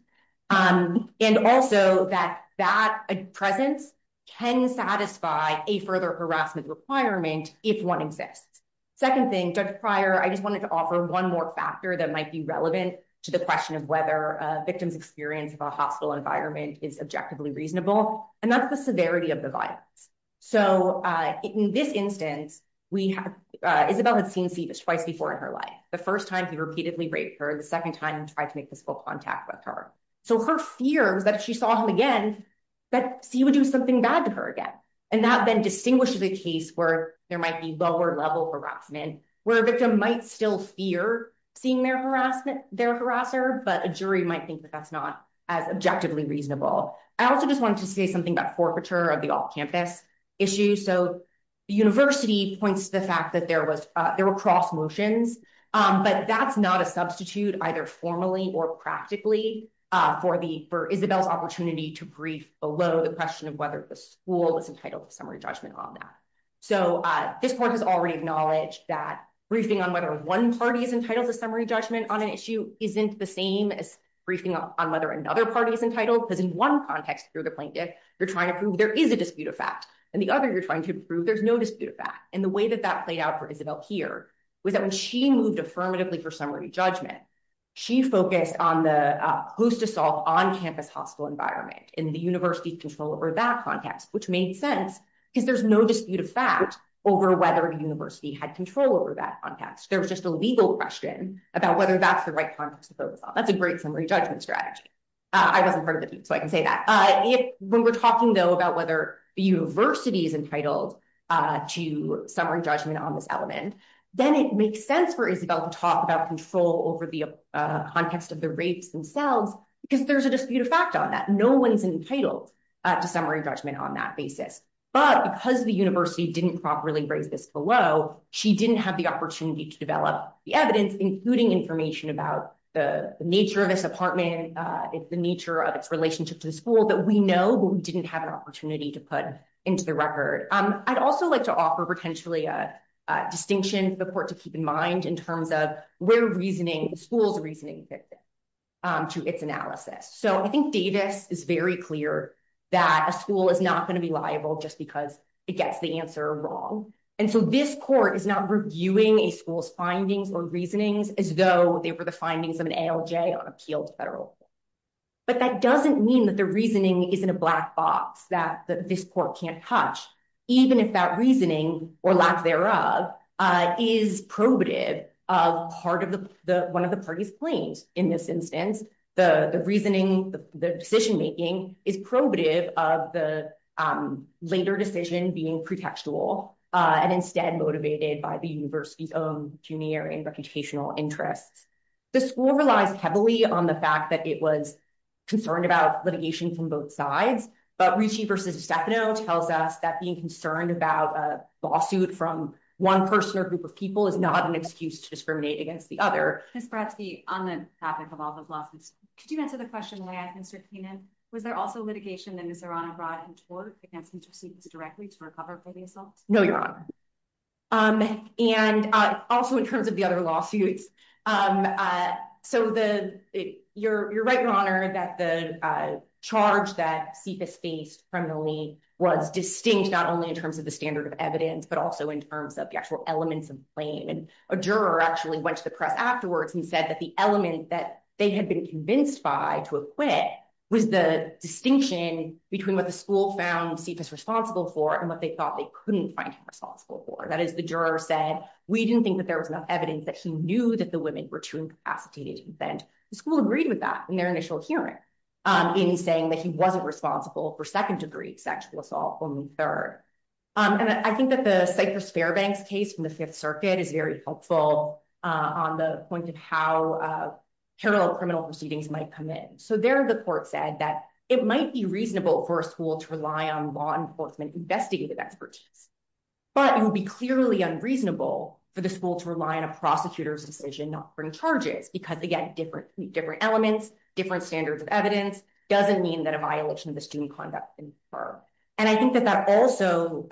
And also that that presence. Can satisfy a further harassment requirement. If one exists. Second thing judge prior, I just wanted to offer one more factor that might be relevant to the question of whether a victim's experience of a hospital environment is objectively reasonable. And that's the severity of the violence. So in this instance, we have. Isabel had seen see this twice before in her life. The first time he repeatedly raped her. The second time he tried to make physical contact with her. So her fear was that if she saw him again. That she would do something bad to her again. And that then distinguishes a case where there might be lower level harassment, where a victim might still fear. Seeing their harassment, their harasser, but a jury might think that that's not as objectively reasonable. I also just wanted to say something about forfeiture of the all campus. Issue. So. University points to the fact that there was, there were cross motions. But that's not a substitute either formally or practically. For the, for Isabel's opportunity to brief below the question of whether the school is entitled to summary judgment on that. So this board has already acknowledged that briefing on whether one party is entitled to summary judgment on an issue. Isn't the same as briefing on whether another party is entitled. Because in one context through the plaintiff, you're trying to prove there is a dispute of fact. And the other you're trying to prove there's no dispute of that. And the way that that played out for Isabel here was that when she moved affirmatively for summary judgment. She focused on the who's to solve on campus hospital environment in the university control over that context, which made sense because there's no dispute of fact over whether a university had control over that context. There was just a legal question about whether that's the right context to focus on. That's a great summary judgment strategy. I wasn't part of the team. So I can say that when we're talking though, about whether the university is entitled to summary judgment on this then it makes sense for Isabel to talk about control over the context of the rates themselves, because there's a dispute of fact on that. No one's entitled to summary judgment on that basis, but because the university didn't properly raise this below, she didn't have the opportunity to develop the evidence, including information about the nature of this apartment. And it's the nature of its relationship to the school that we know, but we didn't have an opportunity to put into the record. I'd also like to offer potentially a distinction for the court to keep in mind in terms of where reasoning school's reasoning to its analysis. So I think Davis is very clear that a school is not going to be liable just because it gets the answer wrong. And so this court is not reviewing a school's findings or reasonings as though they were the findings of an ALJ on appeal to federal. But that doesn't mean that the reasoning is in a black box that this court can't touch, even if that reasoning or lack thereof is probative of part of one of the parties claims. In this instance, the reasoning, the decision-making is probative of the later decision being pretextual and instead motivated by the university's own junior and reputational interests. The school relies heavily on the fact that it was concerned about litigation from both sides, but Ritchie versus Stefano tells us that being concerned about a lawsuit from one person or group of people is not an excuse to discriminate against the other. Ms. Bratzky, on the topic of all the lawsuits, could you answer the question that I had, Mr. Keenan? Was there also litigation that Ms. Arana brought into court against students directly to recover from the assault? No, Your Honor. And also in terms of the other lawsuits, so you're right, Your Honor, that the charge that CFIS faced criminally was distinct, not only in terms of the standard of evidence, but also in terms of the actual elements of the claim. A juror actually went to the press afterwards and said that the element that they had been convinced by to acquit was the distinction between what the school found him responsible for. That is, the juror said, we didn't think that there was enough evidence that he knew that the women were too incapacitated to defend. The school agreed with that in their initial hearing, in saying that he wasn't responsible for second degree sexual assault, only third. And I think that the Cypress-Fairbanks case from the Fifth Circuit is very helpful on the point of how parallel criminal proceedings might come in. So there the court said that it might be reasonable for a school to rely on law enforcement investigative expertise, but it would be clearly unreasonable for the school to rely on a prosecutor's decision not to bring charges because again, different elements, different standards of evidence doesn't mean that a violation of the student conduct can occur. And I think that that also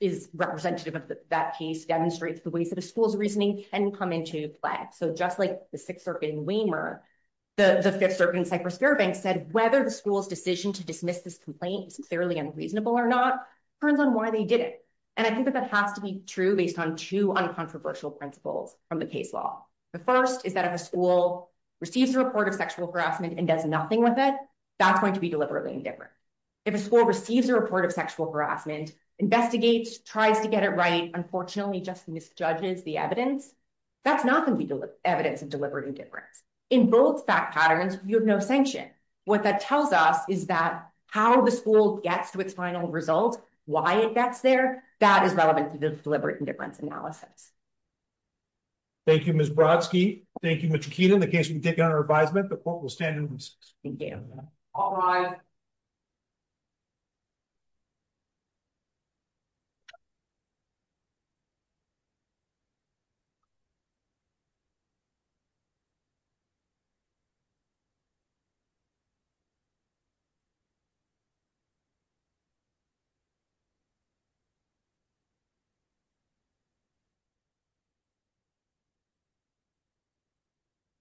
is representative of that case demonstrates the ways that a school's reasoning can come into play. So just like the Sixth Circuit in Weimar, the Fifth Circuit in Cypress-Fairbanks said whether the school's decision to dismiss this complaint is fairly unreasonable or not, it depends on why they did it. And I think that that has to be true based on two uncontroversial principles from the case law. The first is that if a school receives a report of sexual harassment and does nothing with it, that's going to be deliberately indifferent. If a school receives a report of sexual harassment, investigates, tries to get it right, unfortunately just misjudges the evidence, that's not going to be evidence of deliberate indifference. In both fact patterns, you have no sanction. What that tells us is that how the school gets to its final result, why it gets there, that is relevant to deliberate indifference analysis. Thank you, Ms. Brodsky. Thank you, Ms. Chiquita. In the case we take on our advisement, the court will stand in recess. Thank you. All rise. Thank you.